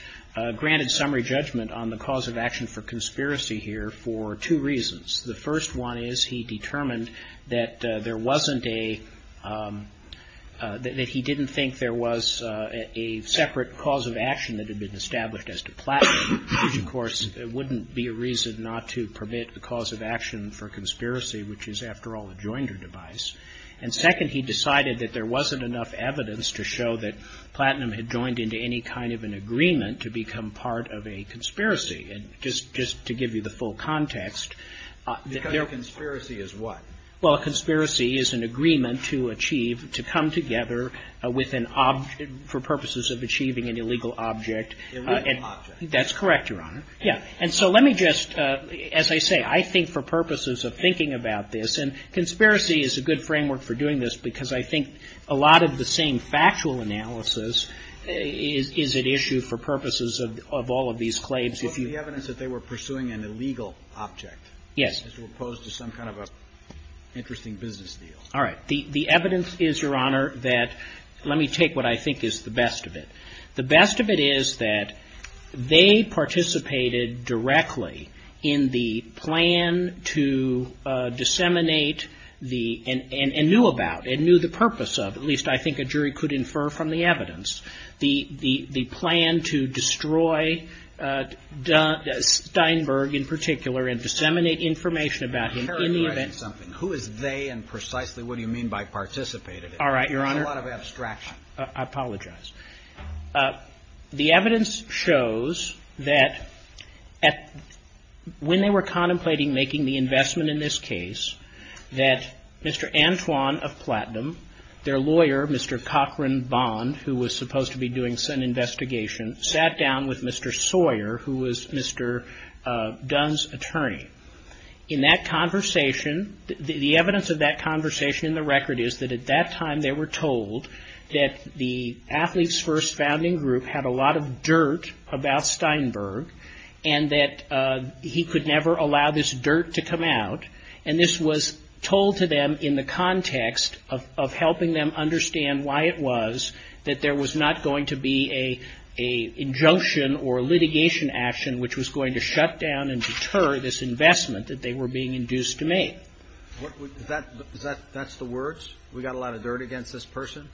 granted summary judgment on the cause of action for conspiracy here for two reasons. The first one is he determined that there wasn't a, that he didn't think there was a separate cause of action that had been established as to platinum. Of course, there wouldn't be a reason not to permit the cause of action for conspiracy, which is, after all, a jointer device. And second, he decided that there wasn't enough evidence to show that platinum had joined into any kind of an agreement to become part of a conspiracy. And just to give you the full context. Because a conspiracy is what? Well, a conspiracy is an agreement to achieve, to come together with an, for purposes of achieving an illegal object. An illegal object. That's correct, Your Honor. Yeah. And so let me just, as I say, I think for purposes of thinking about this. And conspiracy is a good framework for doing this because I think a lot of the same factual analysis is at issue for purposes of all of these claims. The evidence that they were pursuing an illegal object. Yes. As opposed to some kind of an interesting business deal. All right. The evidence is, Your Honor, that, let me take what I think is the best of it. The best of it is that they participated directly in the plan to disseminate the, and knew about, and knew the purpose of, at least I think a jury could infer from the evidence. The plan to destroy Steinberg in particular and disseminate information about him. Who is they and precisely what do you mean by participated? All right, Your Honor. There's a lot of abstraction. I apologize. The evidence shows that when they were contemplating making the investment in this case, that Mr. Antoine of Platinum, their lawyer, Mr. Cochran Bond, who was supposed to be doing some investigation, sat down with Mr. Sawyer, who was Mr. Gunn's attorney. In that conversation, the evidence of that conversation in the record is that at that time they were told that the Athletes First founding group had a lot of dirt about Steinberg and that he could never allow this dirt to come out. And this was told to them in the context of helping them understand why it was that there was not going to be an injunction or litigation action which was going to shut down and deter this investment that they were being induced to make. Is that, that's the words? We got a lot of dirt against this person?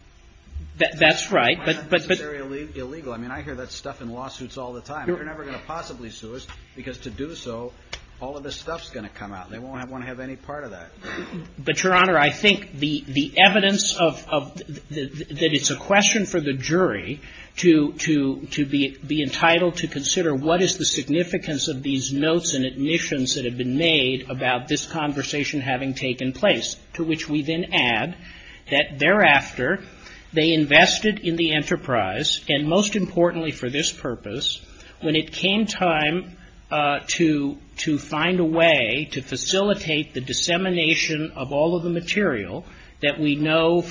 That's right. It's not necessarily illegal. I mean, I hear that stuff in lawsuits all the time. They're never going to possibly sue us because to do so, all of this stuff's going to come out. They won't want to have any part of that. But, Your Honor, I think the evidence of that it's a question for the jury to be entitled to consider what is the significance of these notes and admissions that have been made about this conversation having taken place. And so, we have a very clear evidence, to which we then add that thereafter they invested in the enterprise, and most importantly for this purpose, when it came time to find a way to facilitate the dissemination of all of the material that we know,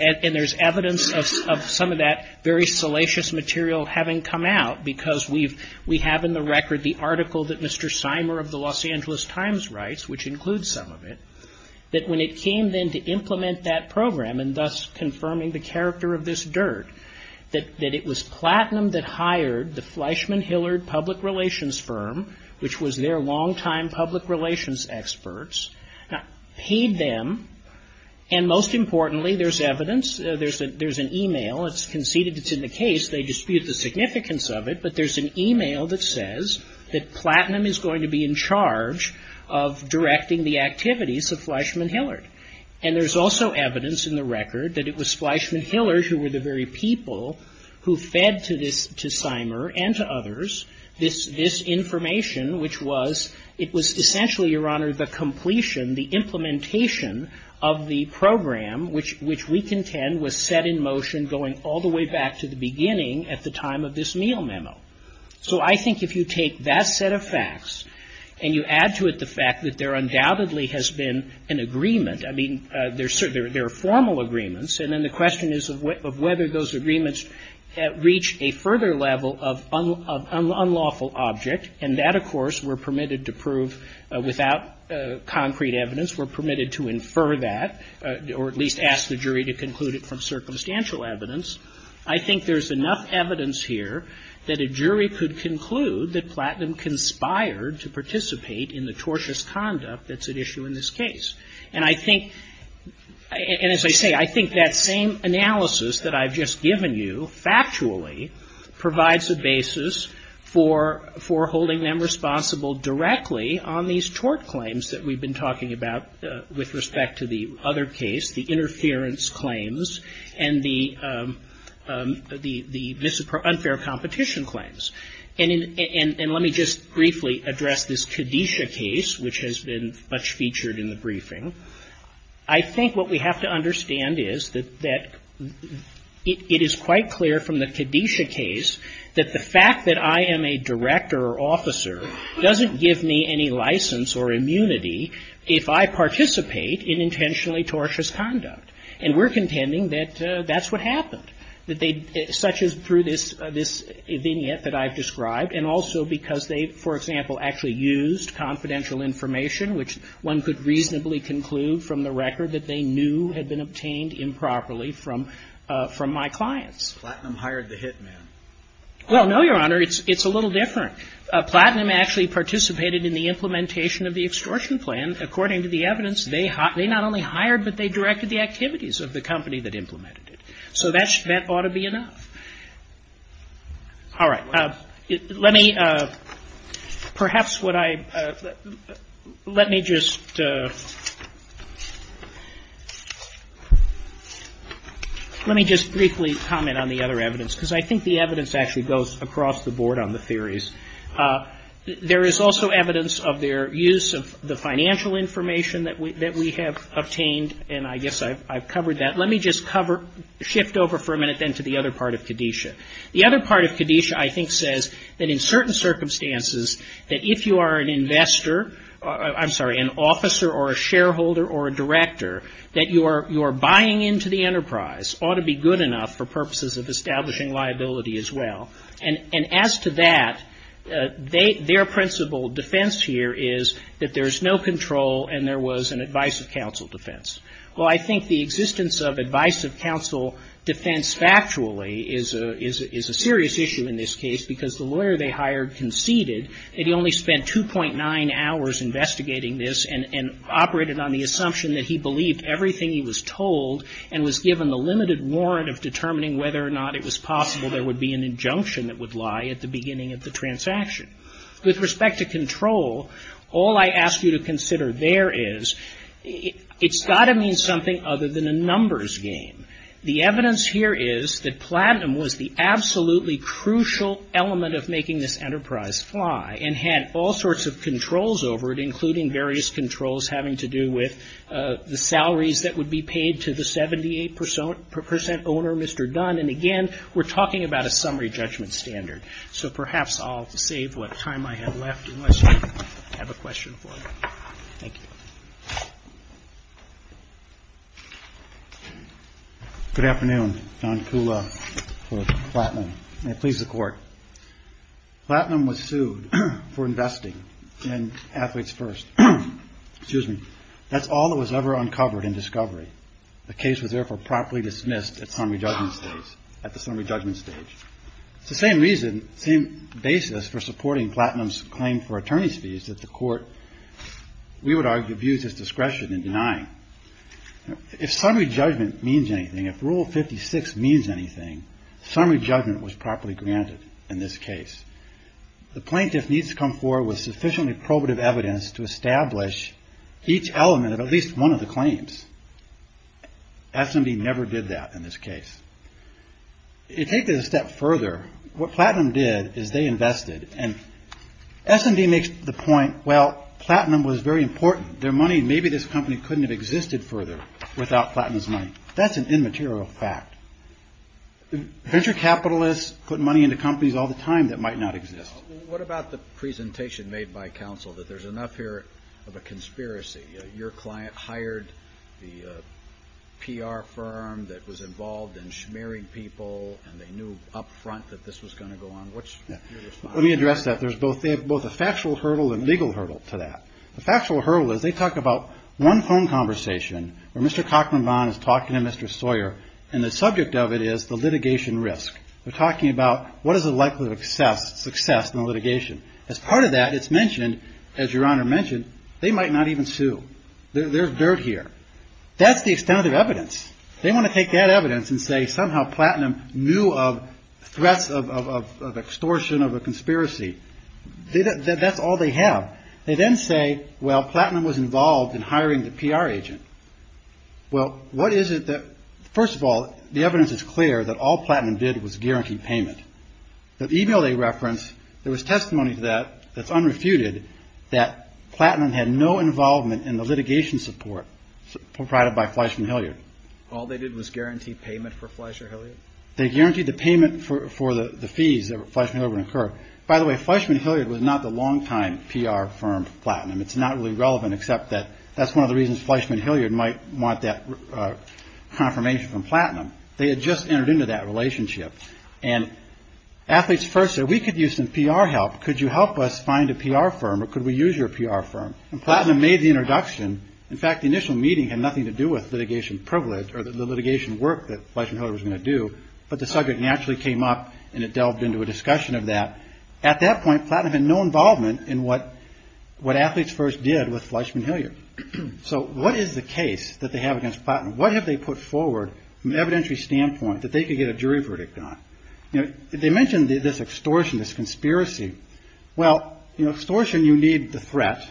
and there's evidence of some of that very salacious material having come out because we have in the record the article that Mr. Cimer of the Los Angeles Times writes, which includes some of it. That when it came then to implement that program, and thus confirming the character of this dirt, that it was Platinum that hired the Fleischman-Hillard public relations firm, which was their long-time public relations experts, paid them, and most importantly, there's evidence, there's an e-mail, it's conceded it's in the case, they dispute the significance of it, but there's an e-mail that says that Platinum is going to be in charge of directing the activities of the firm. And there's also evidence in the record that it was Fleischman-Hillard who were the very people who fed to Cimer and to others this information, which was, it was essentially, Your Honor, the completion, the implementation of the program, which we contend was set in motion going all the way back to the beginning at the time of this Neal memo. So, I think if you take that set of facts and you add to it the fact that there undoubtedly has been an agreement, I mean, there are formal agreements, and then the question is of whether those agreements reach a further level of unlawful object, and that, of course, were permitted to prove without concrete evidence, were permitted to infer that, or at least ask the jury to conclude it from circumstantial evidence, I think there's enough evidence here that a jury could conclude that Platinum conspired to participate in the tortious conduct that's at issue in this case. And I think, and as I say, I think that same analysis that I've just given you factually provides a basis for holding them responsible directly on these tort claims that we've been talking about with respect to the other case, the interference claims, and the unfair competition claims. And let me just briefly address this Tadisha case, which has been much featured in the briefing. I think what we have to understand is that it is quite clear from the Tadisha case that the fact that I am a director or officer doesn't give me any license or immunity if I participate in intentionally tortious conduct. And we're contending that that's what happened, such as through this vignette that I've described, and also because they, for example, actually used confidential information, which one could reasonably conclude from the record that they knew had been obtained improperly from my clients. Well, no, Your Honor, it's a little different. Platinum actually participated in the implementation of the extortion plan. According to the evidence, they not only hired, but they directed the activities of the company that implemented it. So that ought to be enough. All right. Let me just briefly comment on the other evidence, because I think the evidence actually goes across the board on the theories. There is also evidence of their use of the financial information that we have obtained, and I guess I've covered that. Let me just shift over for a minute then to the other part of Tadisha. The other part of Tadisha, I think, says that in certain circumstances, that if you are an investor, I'm sorry, an officer or a shareholder or a director, that your buying into the enterprise ought to be good enough for purposes of establishing liability as well. And as to that, their principle defense here is that there's no control and there was an advice of counsel defense. Well, I think the existence of advice of counsel defense factually is a serious issue in this case, because the lawyer they hired conceded that he only spent 2.9 hours investigating this and operated on the assumption that he believed everything he was told and was given the limited warrant of determining whether or not it was possible there would be an injunction that would lie at the beginning of the transaction. With respect to control, all I ask you to consider there is it's got to mean something other than a numbers game. The evidence here is that platinum was the absolutely crucial element of making this enterprise fly and had all sorts of controls over it, including various controls having to do with the salaries that would be paid to the 78% owner, Mr. Dunn. And again, we're talking about a summary judgment standard. So perhaps I'll save what time I have left unless you have a question for me. Thank you. Good afternoon. I'm cool. I'm going to please the court. Platinum was sued for investing in athletes first. Excuse me. That's all it was ever uncovered in discovery. The case was therefore properly dismissed. At the summary judgment stage. It's the same reason, same basis for supporting platinum's claim for attorney's fees that the court, we would argue, views as discretion in denying. If summary judgment means anything, if Rule 56 means anything, summary judgment was properly granted in this case. The plaintiff needs to come forward with sufficiently probative evidence to establish each element, at least one of the claims. S&D never did that in this case. If you take it a step further, what platinum did is they invested and S&D makes the point, well, platinum was very important. Their money, maybe this company couldn't have existed further without platinum's money. That's an immaterial fact. Venture capitalists put money into companies all the time that might not exist. What about the presentation made by counsel that there's enough here of a conspiracy? Your client hired the PR firm that was involved in smearing people, and they knew up front that this was going to go on. Let me address that. There's both a factual hurdle and legal hurdle to that. The factual hurdle is they talk about one phone conversation where Mr. Cochran Bond is talking to Mr. Sawyer, and the subject of it is the litigation risk. They're talking about what is the likelihood of success in litigation. As part of that, it's mentioned, as Your Honor mentioned, they might not even sue. There's dirt here. That's the standard evidence. They want to take that evidence and say somehow platinum knew of threats of extortion, of a conspiracy. That's all they have. They then say, well, platinum was involved in hiring the PR agent. Well, what is it that, first of all, the evidence is clear that all platinum did was guarantee payment. The e-mail they referenced, there was testimony to that that's unrefuted, that platinum had no involvement in the litigation support provided by Fleischman & Hilliard. All they did was guarantee payment for Fleischman & Hilliard? They guaranteed the payment for the fees that Fleischman & Hilliard would incur. By the way, Fleischman & Hilliard was not the longtime PR firm for platinum. It's not really relevant except that that's one of the reasons Fleischman & Hilliard might want that confirmation from platinum. They had just entered into that relationship, and Athletes First said, we could use some PR help. Could you help us find a PR firm or could we use your PR firm? And platinum made the introduction. In fact, the initial meeting had nothing to do with litigation privilege or the litigation work that Fleischman & Hilliard was going to do, but the subject naturally came up and it delved into a discussion of that. At that point, platinum had no involvement in what Athletes First did with Fleischman & Hilliard. So what is the case that they have against platinum? What have they put forward from an evidentiary standpoint that they could get a jury verdict on? They mentioned this extortion, this conspiracy. Well, extortion, you need the threat.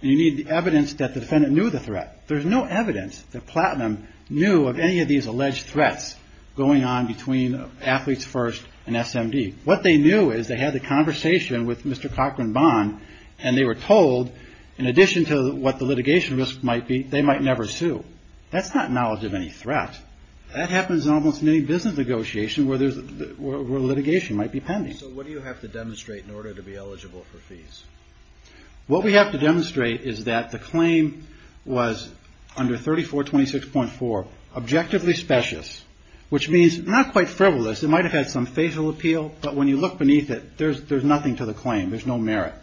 You need the evidence that the defendant knew the threat. There's no evidence that platinum knew of any of these alleged threats going on between Athletes First and SMD. What they knew is they had a conversation with Mr. Cochran Bond, and they were told in addition to what the litigation risk might be, they might never sue. That's not knowledge of any threat. That happens in almost any business negotiation where litigation might be pending. So what do you have to demonstrate in order to be eligible for fees? What we have to demonstrate is that the claim was under 3426.4 objectively specious, which means not quite frivolous. It might have had some facial appeal, but when you look beneath it, there's nothing to the claim. There's no merit.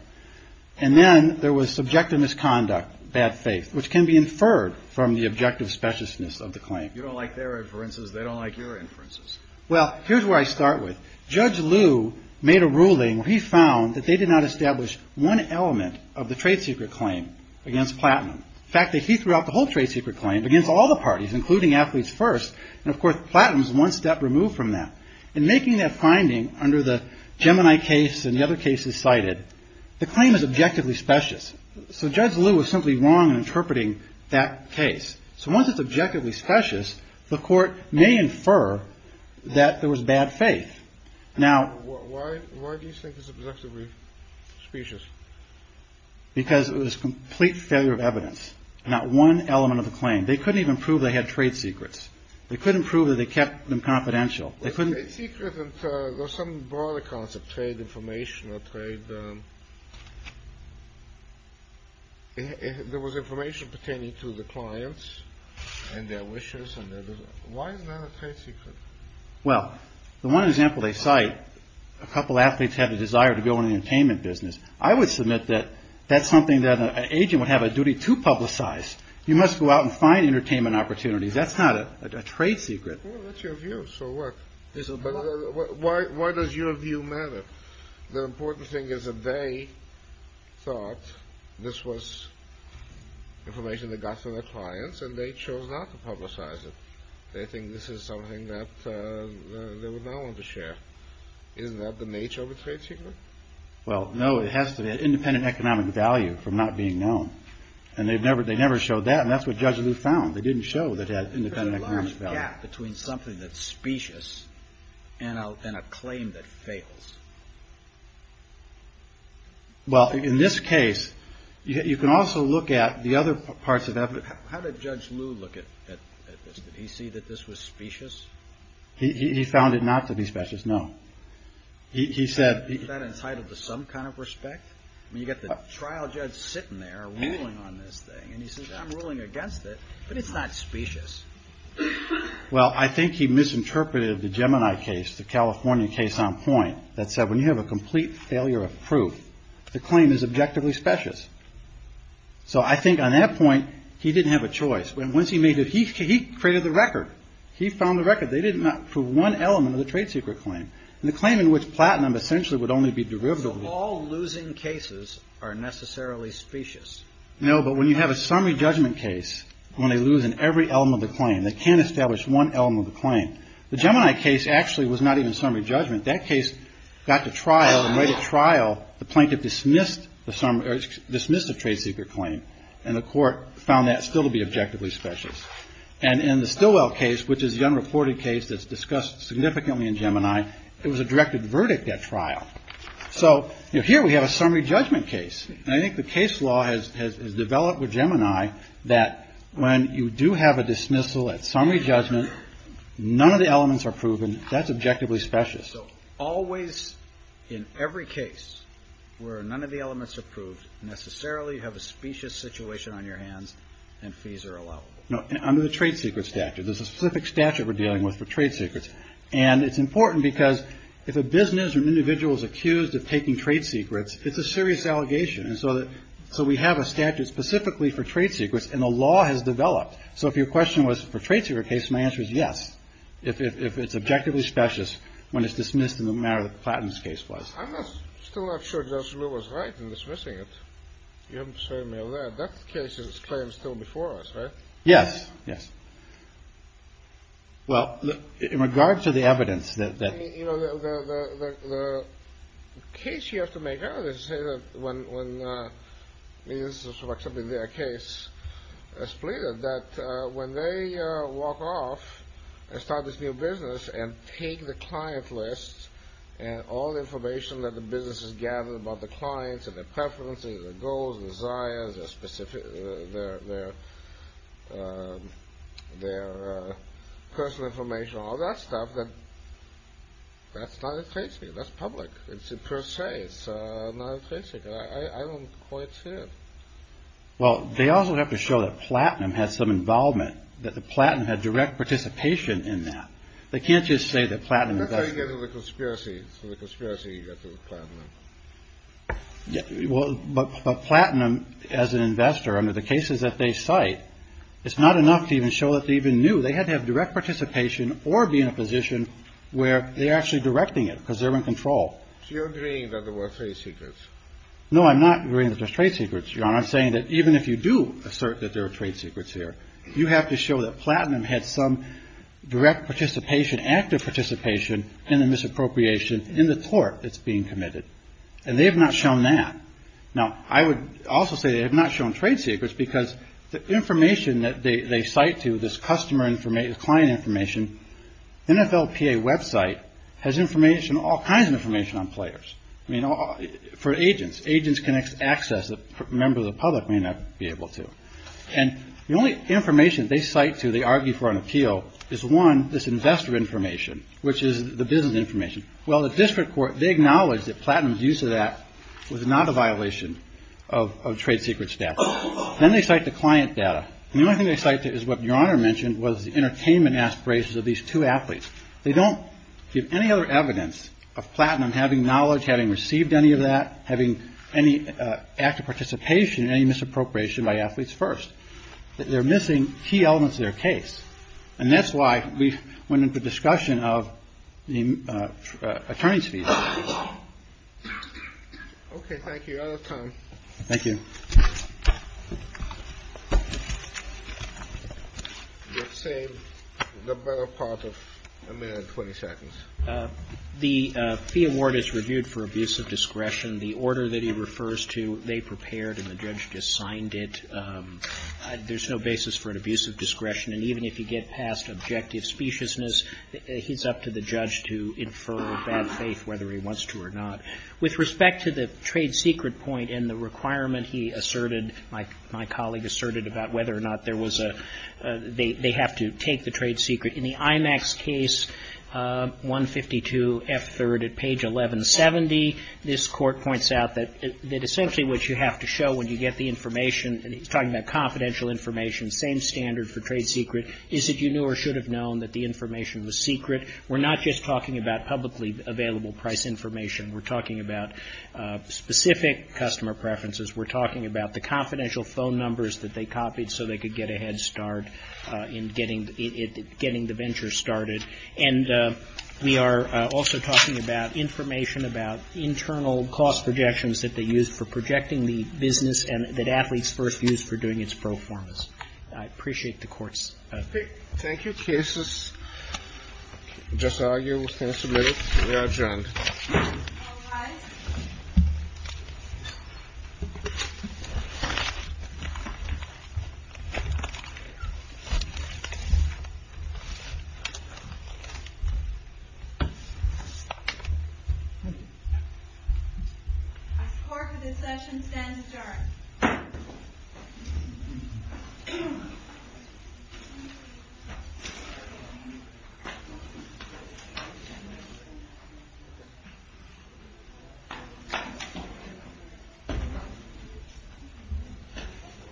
And then there was subjective misconduct, bad faith, which can be inferred from the objective speciousness of the claim. You don't like their inferences. They don't like your inferences. Well, here's where I start with. Judge Liu made a ruling where he found that they did not establish one element of the trade secret claim against platinum. In fact, he threw out the whole trade secret claim against all the parties, including Athletes First, and, of course, platinum is one step removed from that. In making that finding under the Gemini case and the other cases cited, the claim is objectively specious. So Judge Liu was simply wrong in interpreting that case. So once it's objectively specious, the court may infer that there was bad faith. Now, why do you think it's objectively specious? Because it was complete failure of evidence. Not one element of the claim. They couldn't even prove they had trade secrets. They couldn't prove that they kept them confidential. There's some broader concept, trade information. There was information pertaining to the clients and their wishes. Why is that a trade secret? Well, the one example they cite, a couple athletes have a desire to go in the entertainment business. I would submit that that's something that an agent would have a duty to publicize. You must go out and find entertainment opportunities. That's not a trade secret. Well, that's your view, so what? Why does your view matter? The important thing is that they thought this was information they got from their clients, and they chose not to publicize it. They think this is something that they would not want to share. Isn't that the major trade secret? Well, no, it has to be an independent economic value for not being known. And they never showed that, and that's what Judge Liu found. There's a large gap between something that's specious and a claim that fails. Well, in this case, you can also look at the other parts of that. How did Judge Liu look at this? Did he see that this was specious? He found it not to be specious, no. Is that entitled to some kind of respect? You've got the trial judge sitting there ruling on this thing, and he says, I'm ruling against it, but it's not specious. Well, I think he misinterpreted the Gemini case, the California case on point, that said when you have a complete failure of proof, the claim is objectively specious. So I think on that point, he didn't have a choice. And once he made it, he created the record. He found the record. They did not prove one element of the trade secret claim. And the claim in which Platinum essentially would only be derived from this. All losing cases are necessarily specious. No, but when you have a summary judgment case, when they lose in every element of the claim, they can't establish one element of the claim. The Gemini case actually was not even summary judgment. That case got to trial, and in the trial, the plaintiff dismissed the trade secret claim. And the court found that still to be objectively specious. And in the Stillwell case, which is a young reporting case that's discussed significantly in Gemini, it was a directed verdict at trial. So here we have a summary judgment case. I think the case law has developed with Gemini that when you do have a dismissal at summary judgment, none of the elements are proven. That's objectively specious. So always in every case where none of the elements are proved, necessarily you have a specious situation on your hands and fees are allowed. No, under the trade secret statute. There's a specific statute we're dealing with for trade secrets. And it's important because if a business or individual is accused of taking trade secrets, it's a serious allegation. And so we have a statute specifically for trade secrets, and the law has developed. So if your question was for trade secret case, my answer is yes. If it's objectively specious when it's dismissed in the manner that the Plattons case was. I'm still not sure Judge Lew was right in dismissing it. You haven't said that yet. That case is still before us, right? Yes, yes. Well, in regards to the evidence that... You know, the case you have to make out of this is when, maybe this is something in their case, a split of that. When they walk off and start this new business and take the client list, and all the information that the business has gathered about the clients and their preferences and their goals and desires, their personal information, all that stuff, that's not a trade secret. That's public. It's a pure say. It's not a trade secret. I don't quite see it. Well, they also have to show that Platton had some involvement, that the Platton had direct participation in that. They can't just say that Platton... That's how you get rid of the conspiracy, the conspiracy against Platton. But Platton, as an investor, under the cases that they cite, it's not enough to even show that they even knew. They had to have direct participation or be in a position where they're actually directing it because they're in control. So you're agreeing that there were trade secrets? No, I'm not agreeing that there's trade secrets, John. I'm saying that even if you do assert that there are trade secrets here, you have to show that Platton had some direct participation, active participation in the misappropriation, in the tort that's being committed. And they have not shown that. Now, I would also say they have not shown trade secrets because the information that they cite to, this customer information, client information, NFLPA website has information, all kinds of information on players, for agents. Agents can access it. Members of the public may not be able to. And the only information they cite to, they argue for an appeal, is one, this investor information, which is the business information. Well, the district court, they acknowledge that Platton's use of that was not a violation of trade secret status. Then they cite the client data. The only thing they cite to is what your Honor mentioned was the entertainment aspirations of these two athletes. They don't give any other evidence of Platton having knowledge, having received any of that, having any active participation in any misappropriation by athletes first. They're missing key elements of their case. And that's why we went into discussion of the attorney's fee. Okay, thank you. I'll come. Thank you. You'll save the better part of a minute and 20 seconds. The fee award is reviewed for abuse of discretion. The order that he refers to, they prepared and the judge just signed it. There's no basis for an abuse of discretion. And even if you get past objective speciousness, it's up to the judge to infer with bad faith whether he wants to or not. With respect to the trade secret point and the requirement he asserted, my colleague asserted about whether or not there was a, they have to take the trade secret. In the IMAX case 152 F3rd at page 1170, this court points out that essentially what you have to show when you get the information, and he's talking about confidential information, same standard for trade secret, is that you knew or should have known that the information was secret. We're not just talking about publicly available price information. We're talking about specific customer preferences. We're talking about the confidential phone numbers that they copied so they could get a head start in getting it, getting the venture started. And we are also talking about information about internal cost projections that they use for projecting the business and that athletes first use for doing its performance. I appreciate the course. Thank you. Any other cases? Just argue, stand submitted, and we are adjourned. All rise. Court is in session 10-start. Court is adjourned.